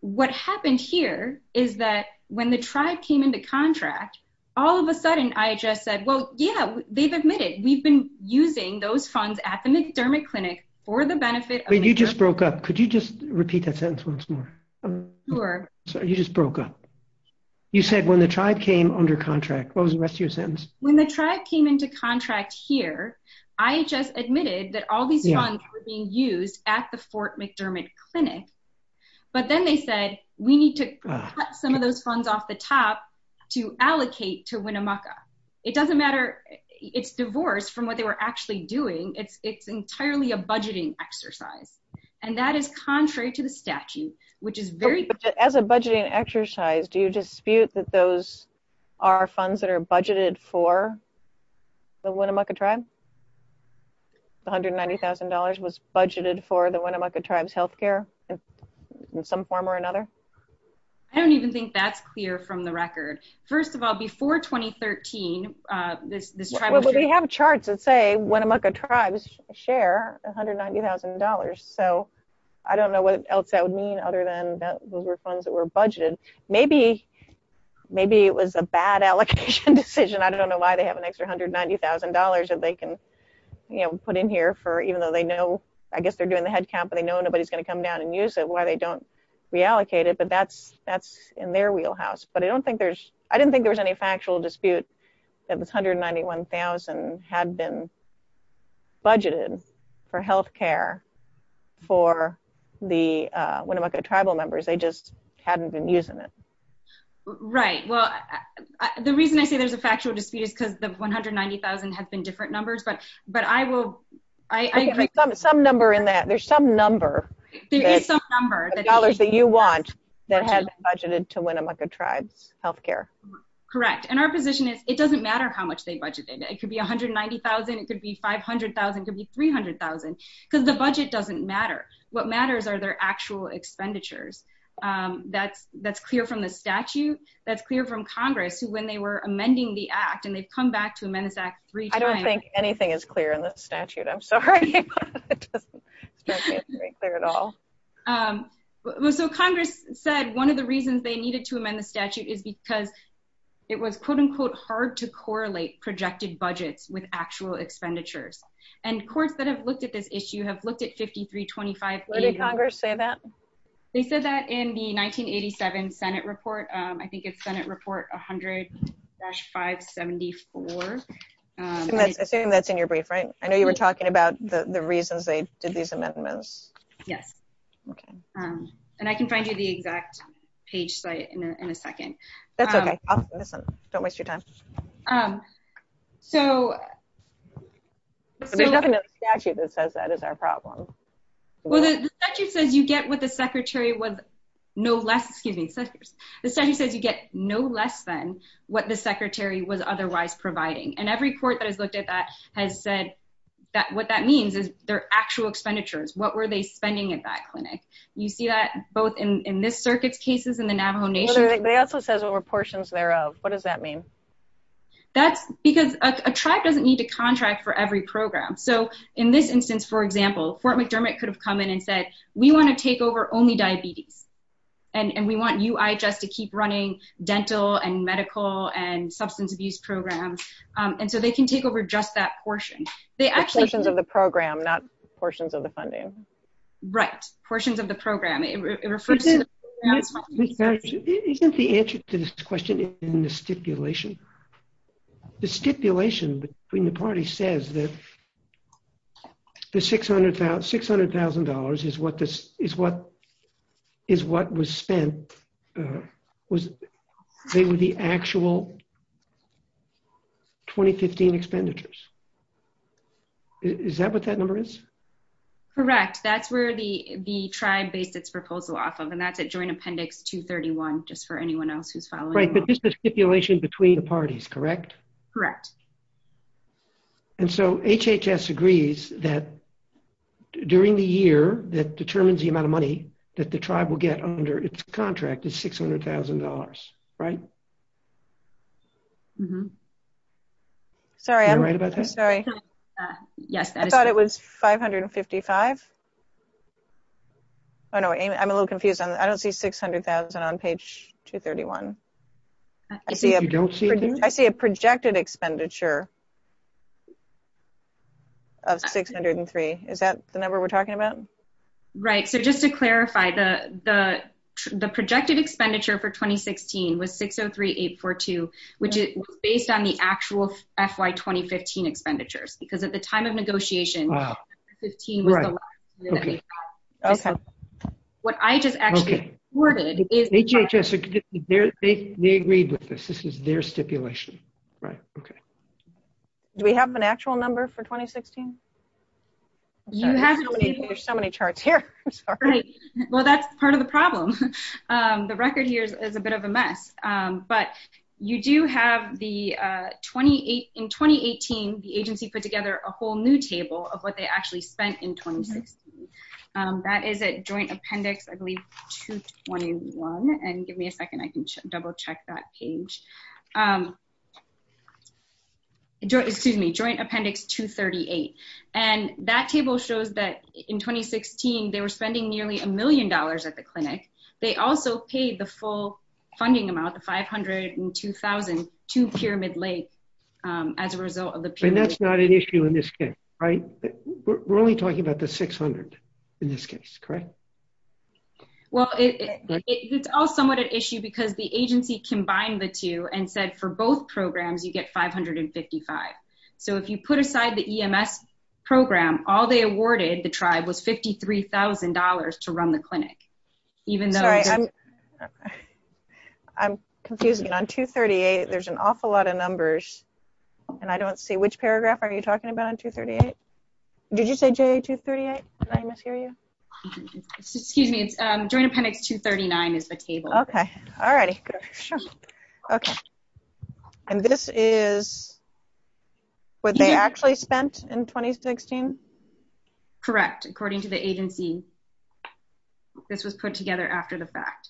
What happened here is that when the tribe came into contract, all of a sudden I just said, well, yeah, they've admitted. We've been using those funds at the McDermott clinic for the benefit. You just broke up. Could you just repeat that sentence once more? Sure. You just broke up. You said when the tribe came under contract, what was the rest of your sentence? When the tribe came into contract here, I just admitted that all these funds were being used at the Fort McDermott clinic. But then they said we need to cut some of those funds off the top to allocate to Winnemucca. It doesn't matter. It's divorce from what they were actually doing. It's it's entirely a budgeting exercise. And that is contrary to the statute, which is very. As a budgeting exercise. Do you dispute that? Those are funds that are budgeted for. The Winnemucca tribe. $190,000 was budgeted for the Winnemucca tribes healthcare. In some form or another. I don't even think that's clear from the record. First of all, I don't think that's clear from the record. I don't know what else that would mean. Before 2013 this, this tribe. We have charts and say, when I'm like a tribe share $190,000. So. I don't know what else that would mean other than that. Those were funds that were budgeted. Maybe. Maybe it was a bad allocation decision. I don't know why they have an extra $190,000. And they can. You know, put in here for, even though they know, I guess they're doing the head count, but they know nobody's going to come down and use it, why they don't reallocate it. But that's, that's in their wheelhouse, but I don't think there's, I didn't think there was any factual dispute. It was 191,000 had been. Budgeted for healthcare. For the Winnemucca tribal members. They just hadn't been using it. Right. Well, The reason I say there's a factual dispute is because the 190,000 had been different numbers, but, but I will. Some number in that there's some number. There is some number that dollars that you want that had budgeted to Winnemucca tribes healthcare. Correct. And our position is it doesn't matter how much they budgeted. It could be 190,000. It could be 500,000. It could be 300,000 because the budget doesn't matter. What matters are their actual expenditures. That's that's clear from the statute. That's clear from Congress who, when they were amending the act and they've come back to amend this act. I don't think anything is clear in the statute. I'm sorry. It doesn't. It's very clear at all. So Congress said one of the reasons they needed to amend the statute is because. It was quote unquote, hard to correlate projected budgets with actual expenditures. And courts that have looked at this issue have looked at 53 25. Congress say that. They said that in the 1987 Senate report. I think it's Senate report. I'm sorry. Senate report. 100. Five 74. Assuming that's in your brief, right? I know you were talking about the reasons they did these amendments. Yes. Okay. And I can find you the exact page site in a second. That's okay. Don't waste your time. So. Statute that says that is our problem. I'm sorry. The statute says you get what the secretary was. No less, excuse me. The study says you get no less than what the secretary was otherwise providing. And every court that has looked at that has said that what that means is their actual expenditures. What were they spending at that clinic? You see that both in this circuit cases in the Navajo nation. They also says what were portions thereof. What does that mean? That's because a tribe doesn't need to contract for every program. So in this instance, for example, Fort McDermott could have come in and said, we want to take over only diabetes. And we want you, I just to keep running dental and medical and substance abuse programs. And so they can take over just that portion. They actually. Of the program, not portions of the funding. Right. Portions of the program. I'm sorry. I'm sorry. Isn't the answer to this question. In the stipulation. The stipulation between the party says that. The 600,000, $600,000 is what this is. What. Is what was spent. Was. They were the actual. 2015 expenditures. And that's where the tribe based its proposal off of. And that's a joint appendix to 31. Just for anyone else who's following. Right. The stipulation between the parties. Correct. Correct. And so HHS agrees that during the year that determines the amount of money. That the tribe will get under its contract is $600,000. Right. Okay. Sorry. Sorry. Yes. I thought it was 555. Oh, no. I'm a little confused. I don't see 600,000 on page 231. I see a projected expenditure. Of 603. Is that the number we're talking about? Yeah, that's the number we're talking about. Right. So just to clarify the, the. The projected expenditure for 2016 was 603, eight, four, two. Which is based on the actual FYI, 2015 expenditures, because at the time of negotiation. Okay. What I just asked. They agreed with this. This is their stipulation. Right. Okay. Do we have an actual number for 2016? You have so many charts here. Well, that's part of the problem. The record here is a bit of a mess. But you do have the 28 in 2018, the agency put together a whole new table of what they actually spent in 2016. That is a joint appendix. Okay. So I'm going to go back to the joint appendix. I believe. And give me a second. I can double check that page. Excuse me, joint appendix to 38. And that table shows that in 2016, they were spending nearly a million dollars at the clinic. They also paid the full funding amount. The 502,002 pyramid Lake. As a result of the. And that's not an issue in this case. Right. We're only talking about the 600. In this case, correct. Well, It's all somewhat at issue because the agency combined the two and said for both programs, you get 555. So if you put aside the EMS program, all they awarded, the tribe was $53,000 to run the clinic. Even though. I'm sorry. I'm. I'm confusing on two 38. There's an awful lot of numbers. And I don't see which paragraph are you talking about on two 38? Did you say J two 38? I mishear you. Excuse me. It's during appendix two 39 is the table. Okay. Alrighty. Okay. And this is. What they actually spent in 2016. And this was put together after the fact. Correct. According to the agency. This was put together after the fact.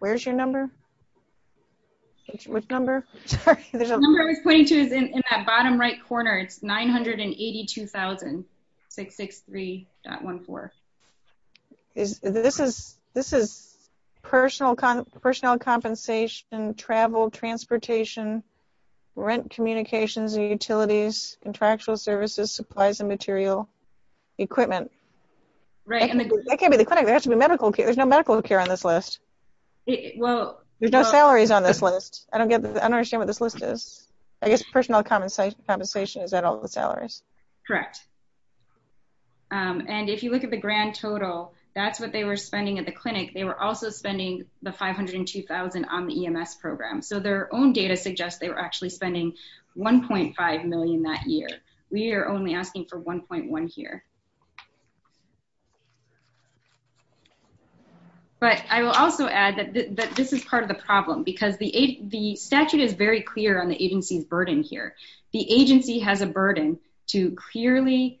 Where's your number. Which number. I'm sorry. The number I was pointing to is in that bottom right corner. It's 982,000. 6, 6, 3.1. Four. This is, this is. Personal con personnel compensation, travel, transportation, rent, communications, utilities, contractual services, supplies and material. Equipment. Right. I can't be the clinic. There has to be medical care. There's no medical care on this list. Well, there's no salaries on this list. I don't get it. I don't understand what this list is. I guess personal compensation compensation is that all the salaries. Correct. And if you look at the grand total, that's what they were spending at the clinic. They were also spending the 502,000 on the EMS program. So their own data suggests they were actually spending. 1.5 million that year. I'm sorry. We are only asking for 1.1 here. But I will also add that this is part of the problem because the aid, the statute is very clear on the agency's burden here. The agency has a burden to clearly. The agency has a burden to clearly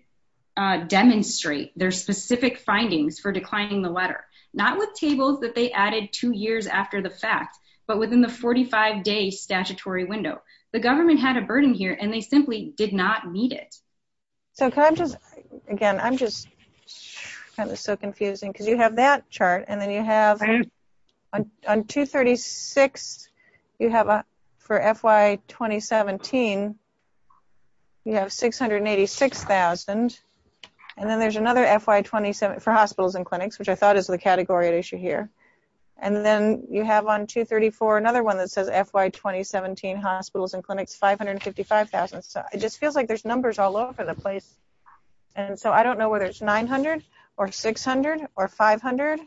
demonstrate their specific findings for declining the letter. Not with tables that they added two years after the fact, but within the 45 day statutory window, the government had a burden here and they simply did not meet it. So can I just, again, I'm just. Kind of so confusing because you have that chart and then you have. On two 36. You have a, for FYI 2017. You have 686,000. And then there's another FYI, 27 for hospitals and clinics, which I thought is the category at issue here. And then you have on two 34, another one that says FYI, 2017 hospitals and clinics, 555,000. So it just feels like there's numbers all over the place. And so I don't know whether it's 900 or 600 or 500.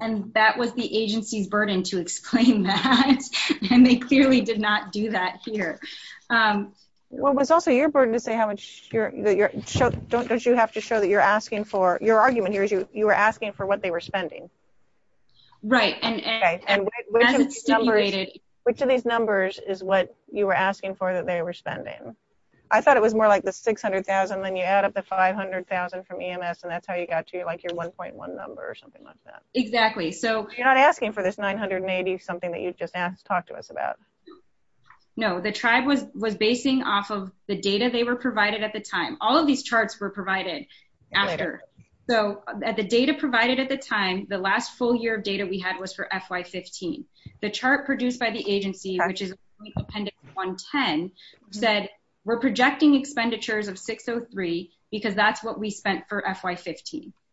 And that was the agency's burden to explain that. And they clearly did not do that here. What was also your burden to say how much your show don't, don't you have to show that you're asking for your argument here is you, you were asking for what they were spending. Right. And. Which of these numbers is what you were asking for, that they were spending. I thought it was more like the 600,000, then you add up the 500,000 from EMS and that's how you got to like your 1.1 number or something like that. Exactly. So. You're not asking for this 980, something that you've just asked to talk to us about. No, the tribe was, was basing off of the data. They were provided at the time. All of these charts were provided. After. So at the data provided at the time, the last full year of data we had was for FYI 15, the chart produced by the agency, which is. Okay.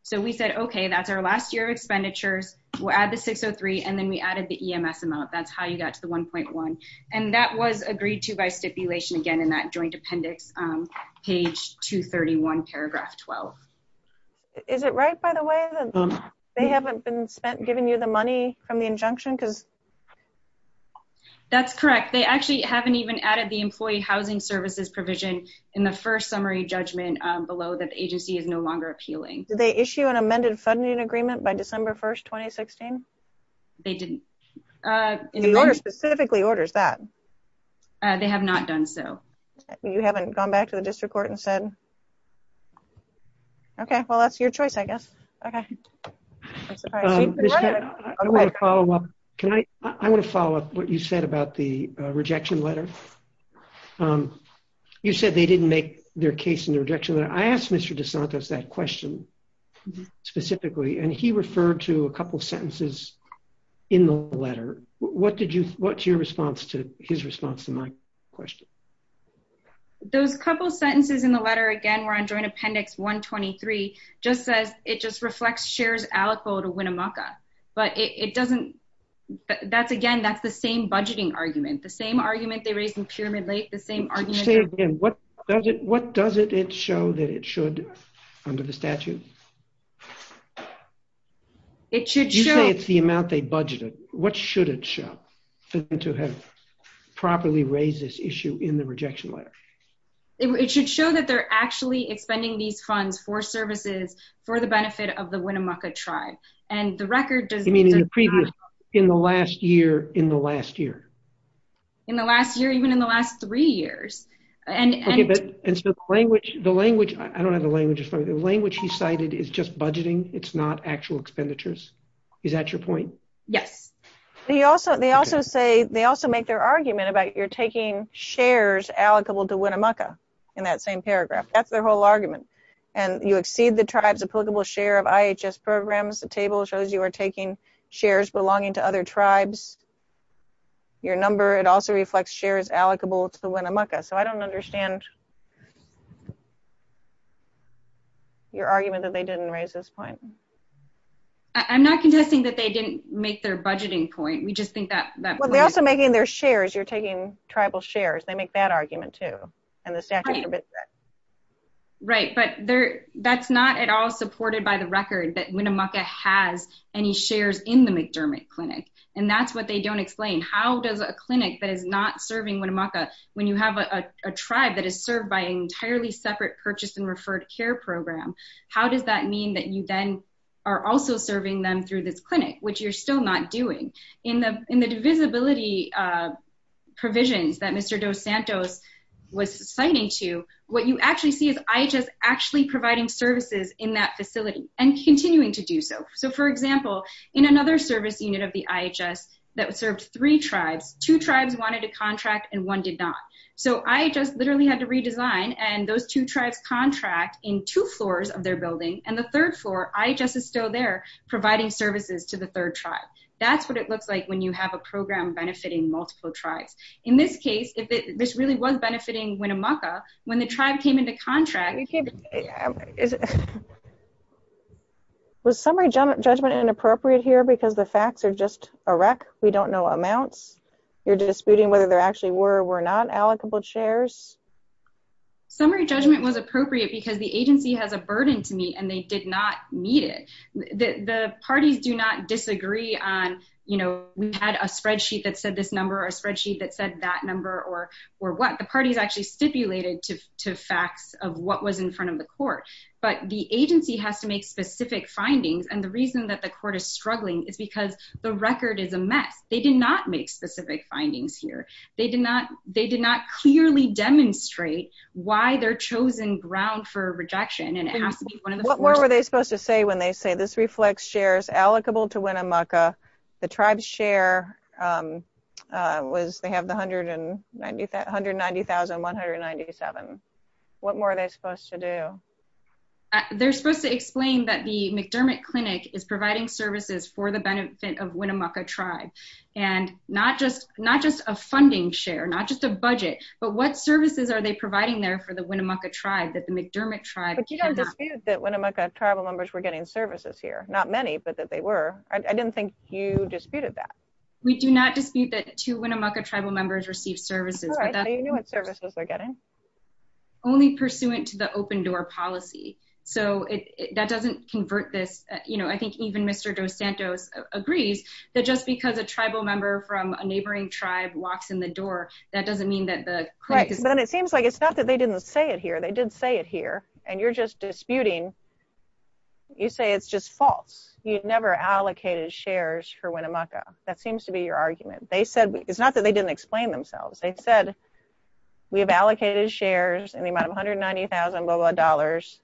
So we said, okay, that's our last year of expenditures. We'll add the six Oh three. And then we added the EMS amount. That's how you got to the 1.1. And that was agreed to by stipulation again, in that joint appendix, page two 31 paragraph 12. Is it right by the way? They haven't been spent giving you the money from the injunction. Cause. That's correct. They actually haven't even added the employee housing services provision in the first summary judgment below that the agency is no longer appealing. They issue an amended funding agreement by December 1st, 2016. They didn't. Okay. I'm sorry. The order specifically orders that. They have not done. So. You haven't gone back to the district court and said. Okay. Well, that's your choice, I guess. Okay. I want to follow up. Can I, I want to follow up what you said about the rejection letter. You said they didn't make their case in the rejection that I asked Mr. DeSantis that question. Yeah. I think that was in the letter. Specifically, and he referred to a couple of sentences. In the letter. What did you, what's your response to his response to my question? Those couple of sentences in the letter again, we're on joint appendix. 123. Just says it just reflects shares Aleppo to win a Maca. But it doesn't. That's again, that's the same budgeting argument, the same argument they raised in pyramid Lake, the same argument. What does it, what does it, it show that it should. Under the statute. It should show it's the amount they budgeted. What should it show? To have. Properly raise this issue in the rejection letter. It should show that they're actually expending these funds for services for the benefit of the Winnemucca tribe. And the record does. In the last year in the last year. In the last year, even in the last three years. And. Language, the language. I don't have the language. The language he cited is just budgeting. It's not actual expenditures. Is that your point? Yes. They also, they also say they also make their argument about you're taking shares allocable to win a Maca. In that same paragraph. That's their whole argument. And that's their whole argument. And that's their whole argument. And you exceed the tribe's applicable share of IHS programs. The table shows you are taking shares belonging to other tribes. Your number. It also reflects shares allocable to the Winnemucca. So I don't understand. Your argument that they didn't raise this point. I'm not contesting that they didn't make their budgeting point. We just think that. Well, they also making their shares. You're taking tribal shares. They make that argument too. And the staff. Right. But there that's not at all supported by the record that when a Maka has any shares in the McDermott clinic. And that's what they don't explain. How does a clinic that is not serving when a Maka, when you have a, a tribe that is served by entirely separate purchase and referred care program. How does that mean that you then. You know, you're not going to be able to provide services to other tribes that you are also serving them through this clinic, which you're still not doing in the, in the divisibility. Provisions that Mr. Dos Santos. Was citing to what you actually see is IHS actually providing services in that facility and continuing to do so. So for example, in another service unit of the IHS that would serve three tribes, they would provide services to the third tribe. And that's what it looks like when you have a program benefiting multiple tribes. In this case, if this really was benefiting, when a Maka, when the tribe came into contract. Is it. Was summary judgment judgment inappropriate here because the facts are just a wreck. We don't know amounts. You're disputing whether there actually were, were not allocable chairs. Summary judgment was appropriate because the agency has a burden to me and they did not need it. The parties do not disagree on, you know, we had a spreadsheet that said this number or a spreadsheet that said that number or, or what the parties actually stipulated to, to facts of what was in front of the court. But the agency has to make specific findings. And the reason that the court is struggling is because the record is a mess. They did not make specific findings here. They did not, they did not clearly demonstrate why they're chosen ground for rejection. And it has to be one of the, what were they supposed to say when they say this reflects shares allocable to win a Maka. The tribe's share was they have the hundred and 90, 190,197. What more are they supposed to do? They're supposed to explain that the McDermott clinic is providing services for the benefit of Winnemucca tribe. And not just, not just a funding share, not just a budget, but what services are they providing there for the Winnemucca tribe, that the McDermott tribe. That Winnemucca tribal members were getting services here. Not many, but that they were, I didn't think you disputed that. We do not dispute that to Winnemucca tribal members receive services. I don't know what services they're getting. Only pursuant to the open door policy. So it, that doesn't convert this. You know, I think even Mr. Dos Santos agrees that just because a tribal member from a neighboring tribe walks in the door, that doesn't mean that the. And it seems like it's not that they didn't say it here. They didn't say it here and you're just disputing. You say it's just false. You'd never allocated shares for Winnemucca. That seems to be your argument. They said it's not that they didn't explain themselves. They said we have allocated shares in the amount of $190,000.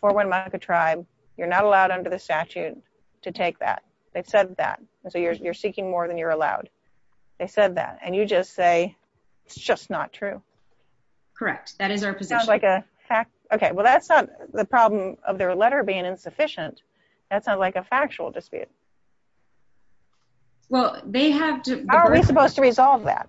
For Winnemucca tribe. You're not allowed under the statute to take that. They've said that. So you're, you're seeking more than you're allowed. They said that. And you just say, it's just not true. Correct. That is our position. Sounds like a fact. Okay. Well, that's not the problem of their letter being insufficient. That's not like a factual dispute. Well, they have to, how are we supposed to resolve that?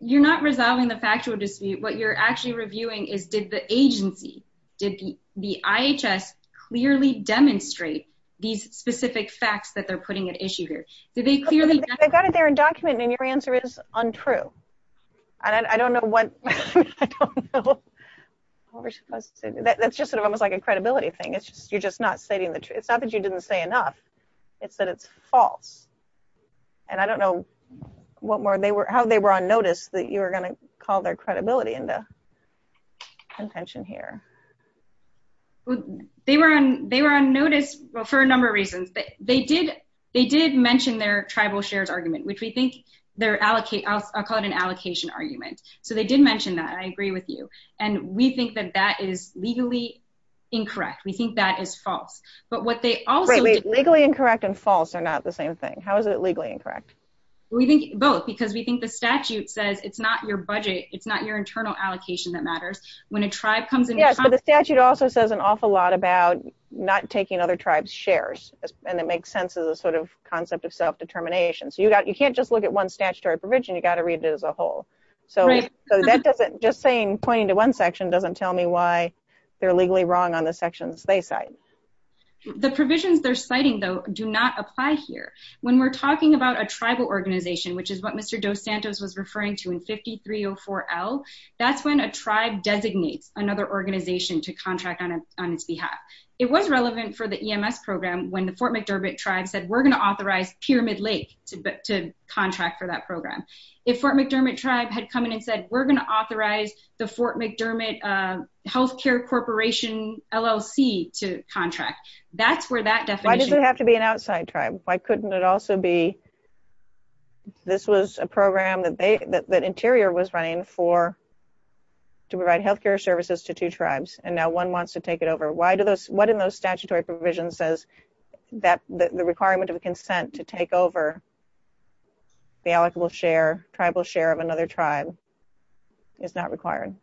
You're not resolving the factual dispute. What you're actually reviewing is did the agency, did the IHS clearly demonstrate these specific facts that they're putting at issue here? Did they clearly, They've got it there in document and your answer is untrue. I don't know what, I don't know. That's just sort of almost like a credibility thing. It's just, you're just not stating the truth. It's not that you didn't say enough. It's that it's false. And I don't know what more they were, how they were on notice that you were going to call their credibility into contention here. They were on, they were on notice for a number of reasons, but they did, they did mention their tribal shares argument, which we think their allocate, I'll call it an allocation argument. So they did mention that. I agree with you. And we think that that is legally incorrect. We think that is false, but what they also, Legally incorrect and false are not the same thing. How is it legally incorrect? We think both because we think the statute says it's not your budget. It's not your internal allocation that matters when a tribe comes in. Yeah. But the statute also says an awful lot about not taking other tribes shares. And it makes sense as a sort of concept of self-determination. So you got, you can't just look at one statutory provision. You got to read it as a whole. So that doesn't just saying pointing to one section doesn't tell me why they're legally wrong on the sections they cite. The provisions they're citing though, do not apply here. When we're talking about a tribal organization, which is what Mr. Dos Santos was referring to in 5304L, that's when a tribe designates another organization to contract on its behalf. It was relevant for the EMS program when the Fort McDermott tribe said, we're going to authorize Pyramid Lake to contract for that program. If Fort McDermott tribe had come in and said, we're going to authorize the Fort McDermott healthcare corporation LLC to contract. That's where that definition. Why does it have to be an outside tribe? Why couldn't it also be, this was a program that Interior was running for, to provide healthcare services to two tribes. And now one wants to take it over. What in those statutory provisions says that the requirement of consent to take over the allocable share, tribal share of another tribe, is not required?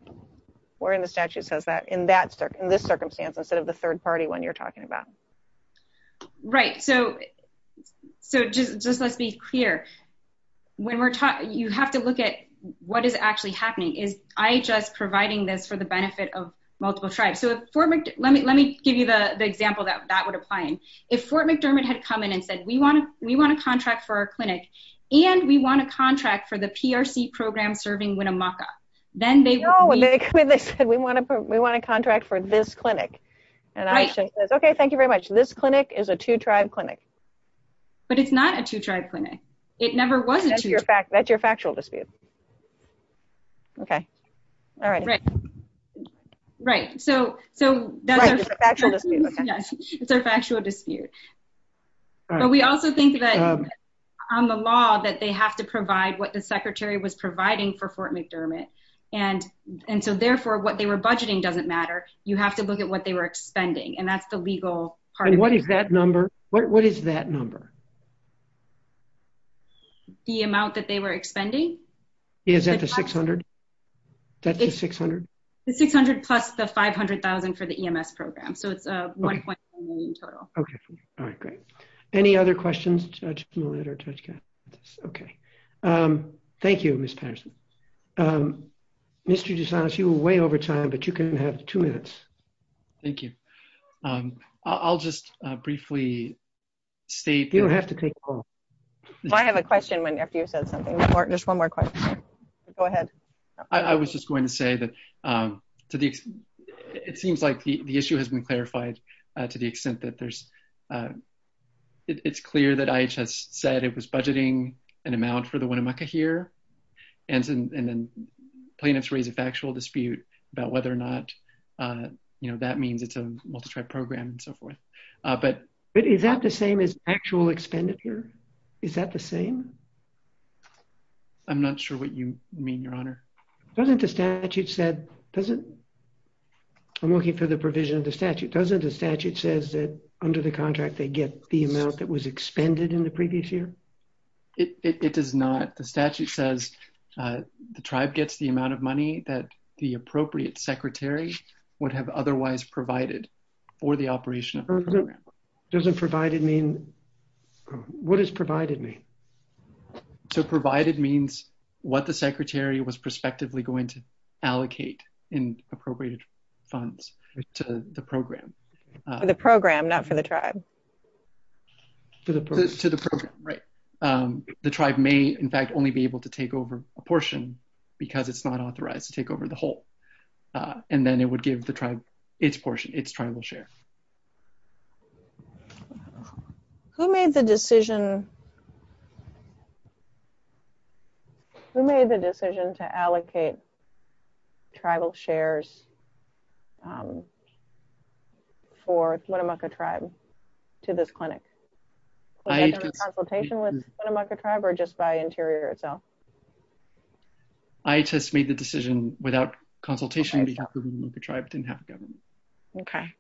Or in the statute says that in this circumstance, instead of the third party one you're talking about. Right. Just let's be clear. You have to look at what is actually happening. Is IHS providing this for the benefit of multiple tribes? Let me give you the example that that would apply in. If Fort McDermott had come in and said, we want to contract for our clinic and we want to contract for the PRC program serving Winnemucca. No, they said, we want to contract for this clinic. And IHS says, okay, thank you very much. This clinic is a two tribe clinic. But it's not a two tribe clinic. It never was a two tribe clinic. That's your factual dispute. Okay. All right. Right. Right. So that's our factual dispute. It's our factual dispute. But we also think that on the law that they have to provide what the secretary was providing for Fort McDermott. And so therefore what they were budgeting doesn't matter. You have to look at what they were expending. And that's the legal part of it. And what is that number? What is that number? The amount that they were expending. Is that the $600,000? That's the $600,000? The $600,000 plus the $500,000 for the EMS program. So it's a $1.1 million total. Okay. All right. Great. Any other questions? Okay. Thank you, Ms. Patterson. Mr. DeSantis, you were way over time, but you can have two minutes. Thank you. I'll just briefly state. You don't have to take a call. I have a question when, after you said something. There's one more question. Go ahead. I was just going to say that to the, it seems like the issue has been clarified to the extent that there's it's clear that IHS said it was budgeting an amount for the Winnemucca here. And then plaintiffs raise a factual dispute about whether or not, you know, that means it's a multi-track program and so forth. But. Is that the same as actual expenditure? Is that the same? I'm not sure what you mean, your honor. Doesn't the statute said, doesn't. I'm looking for the provision of the statute. Doesn't the statute says that under the contract, they get the amount that was expended in the previous year. It does not. It doesn't say that the statute says. The tribe gets the amount of money that the appropriate secretary. Would have otherwise provided. For the operation. Doesn't provided mean. What is provided me. So provided means. What the secretary was prospectively going to. Allocate in appropriate. Funds. To the program. The program, not for the tribe. To the. To the program. The tribe may in fact, only be able to take over a portion because it's not authorized to take over the whole. And then it would give the tribe. It's portion. It's tribal share. Who made the decision? Who made the decision to allocate? Tribal shares. For Winnemucca tribe. To this clinic. I just made the decision without consultation. With the tribe or just by interior itself. I just made the decision without consultation. The tribe didn't have a government. Okay.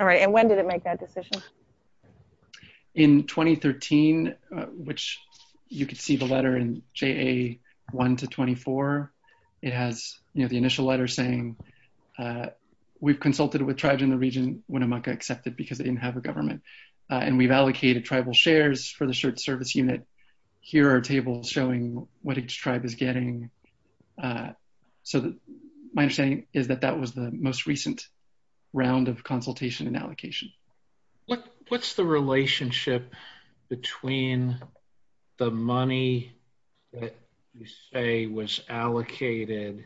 All right. And when did it make that decision? In 2013. Which. You could see the letter in J a one to 24. It has the initial letter saying. We've consulted with tribes in the region. And we've allocated tribal shares for the shirt service unit. And we've allocated tribal shares for the shirt service unit. Here are tables showing what each tribe is getting. So. My understanding is that that was the most recent. Round of consultation and allocation. What's the relationship. Between. The money. You say was allocated.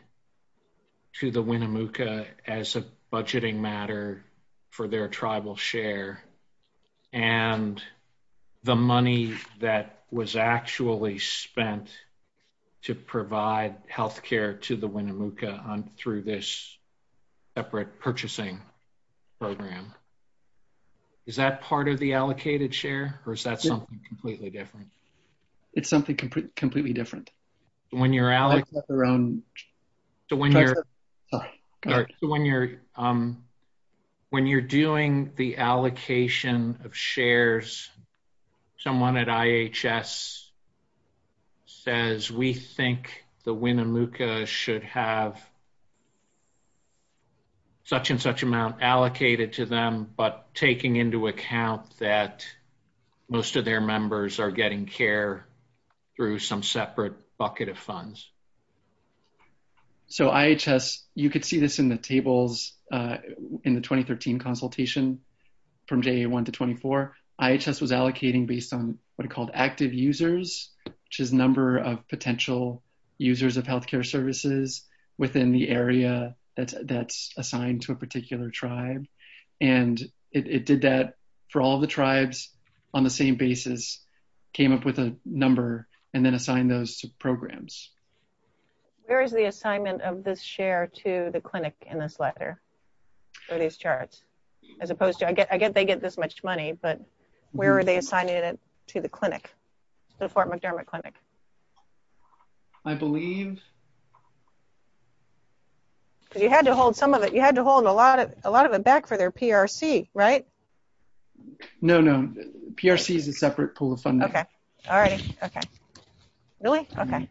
To the Winnemucca as a budgeting matter. And the money that was allocated. For their tribal share. And. The money that was actually spent. To provide healthcare to the Winnemucca. Through this. Separate purchasing. Program. Is that part of the allocated share or is that something completely different? It's something completely different. When you're out. When you're. When you're. When you're doing the allocation of shares. Someone at IHS. Says we think the Winnemucca should have. Such and such amount allocated to them, but taking into account that. Most of their members are getting care. Through some separate bucket of funds. So IHS, you could see this in the tables. In the 2013 consultation. From day one to 24. IHS was allocating based on what it called active users. Which is number of potential users of healthcare services. Within the area. That's that's assigned to a particular tribe. And that's what we did. And that's what we did. And it did that. For all the tribes. On the same basis. Came up with a number and then assign those programs. There is the assignment of this share to the clinic in this letter. Or these charts. As opposed to, I get, I get, they get this much money, but. Where are they assigning it to the clinic? The Fort McDermott clinic. I believe. You had to hold some of it. You had to hold a lot of, a lot of it back for their PRC, right? No, no. PRC is a separate pool of funding. Okay. All right. Okay. Really? Okay.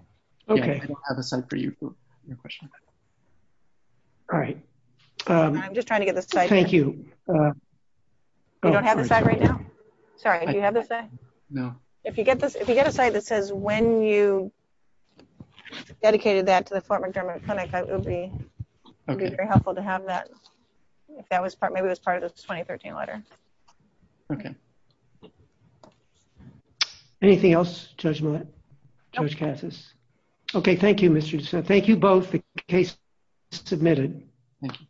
Okay. I don't have a site for you. All right. I'm just trying to get the site. Thank you. You don't have the site right now. Sorry. Do you have the site? No. If you get this, if you get a site that says when you. Dedicated that to the former German clinic, I will be. Okay. Very helpful to have that. If that was part, maybe it was part of the 2013 letter. Okay. Anything else? Judgment. Okay. Thank you, Mr. So thank you both. Case. Submitted. Thank you.